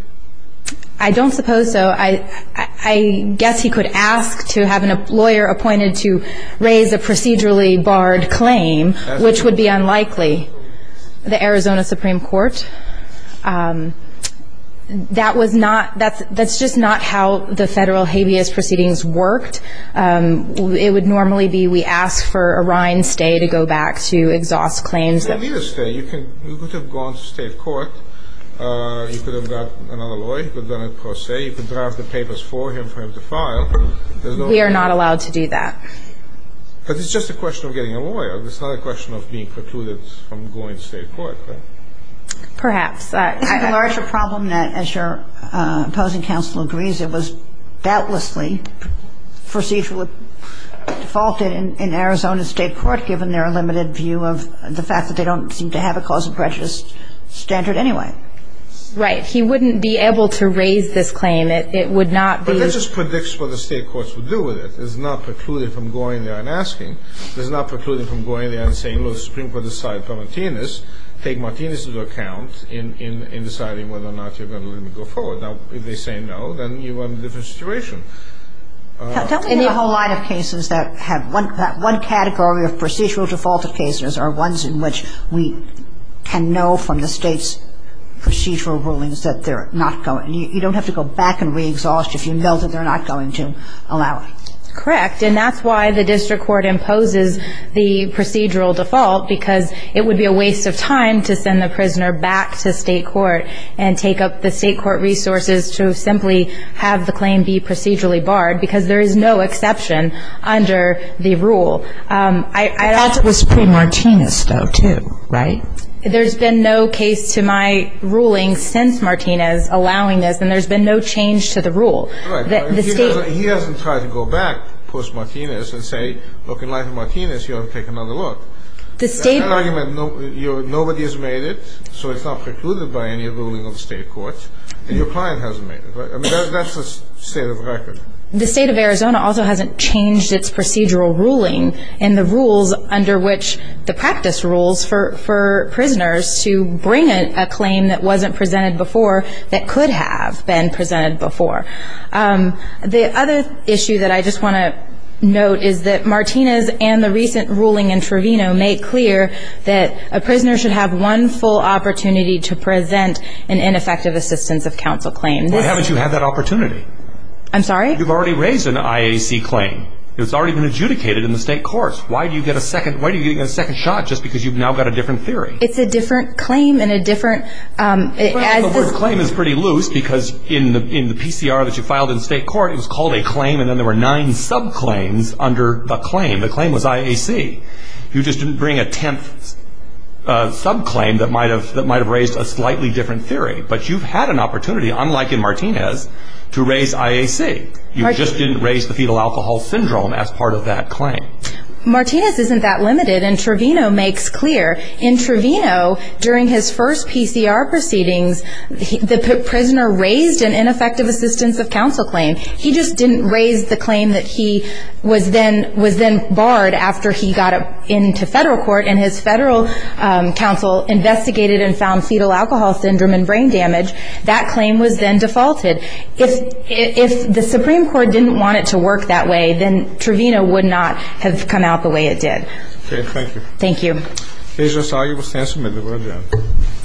I don't suppose so. I guess he could ask to have a lawyer appointed to raise a procedurally barred claim, which would be unlikely. The Arizona Supreme Court, that was not, that's just not how the federal habeas proceedings worked. It would normally be, we ask for a rind stay to go back to exhaust claims. You could have gone to state court. You could have got another lawyer, you could have done it per se, you could draft the papers for him for him to file. We are not allowed to do that. Because it's just a question of getting a lawyer. It's not a question of being precluded from going to state court. Perhaps. I have a larger problem that, as your opposing counsel agrees, it was doubtlessly foreseeable default in Arizona state court, given their limited view of the fact that they don't seem to have a cause and precious standard anyway. Right. He wouldn't be able to raise this claim. It would not be. But this just predicts what the state courts would do with it. It's not precluded from going there and asking. It's not precluded from going there and saying, well, the Supreme Court has decided for Martinez, take Martinez's account in deciding whether or not you're going to let him go forward. Now, if they say no, then you're in a different situation. In the whole line of cases that have one category of procedural defaulted cases are ones in which we can know from the state's procedural rulings that they're not going. You don't have to go back and re-exhaust if you know that they're not going to allow it. Correct. And that's why the district court imposes the procedural default, because it would be a waste of time to send the prisoner back to state court and take up the state court resources to simply have the claim be procedurally barred, because there is no exception under the rule. That was pre-Martinez, though, too, right? There's been no case to my ruling since Martinez allowing this, and there's been no change to the rule. He hasn't tried to go back post-Martinez and say, look, in light of Martinez, you ought to take another look. Nobody has made it, so it's not precluded by any ruling of the state court. Your client hasn't made it. I mean, that's the state of the record. The state of Arizona also hasn't changed its procedural ruling and the rules under which the practice rules for prisoners to bring a claim that wasn't presented before that could have been presented before. The other issue that I just want to note is that Martinez and the recent ruling in Trevino made clear that a prisoner should have one full opportunity to present an ineffective assistance of counsel claim. Why haven't you had that opportunity? I'm sorry? You've already raised an IAC claim. It's already been adjudicated in the state courts. Why do you get a second shot just because you've now got a different theory? It's a different claim and a different... The claim is pretty loose because in the PCR that you filed in the state court, it was called a claim and then there were nine sub-claims under the claim. The claim was IAC. You just didn't bring a tenth sub-claim that might have raised a slightly different theory. But you've had an opportunity, unlike in Martinez, to raise IAC. You just didn't raise the fetal alcohol syndrome as part of that claim. Martinez isn't that limited, and Trevino makes clear. In Trevino, during his first PCR proceedings, the prisoner raised an ineffective assistance of counsel claim. He just didn't raise the claim that he was then barred after he got into federal court and his federal counsel investigated and found fetal alcohol syndrome and brain damage. That claim was then defaulted. If the Supreme Court didn't want it to work that way, then Trevino would not have come out the way it did. Okay, thank you. Thank you. There's a solid testament to that.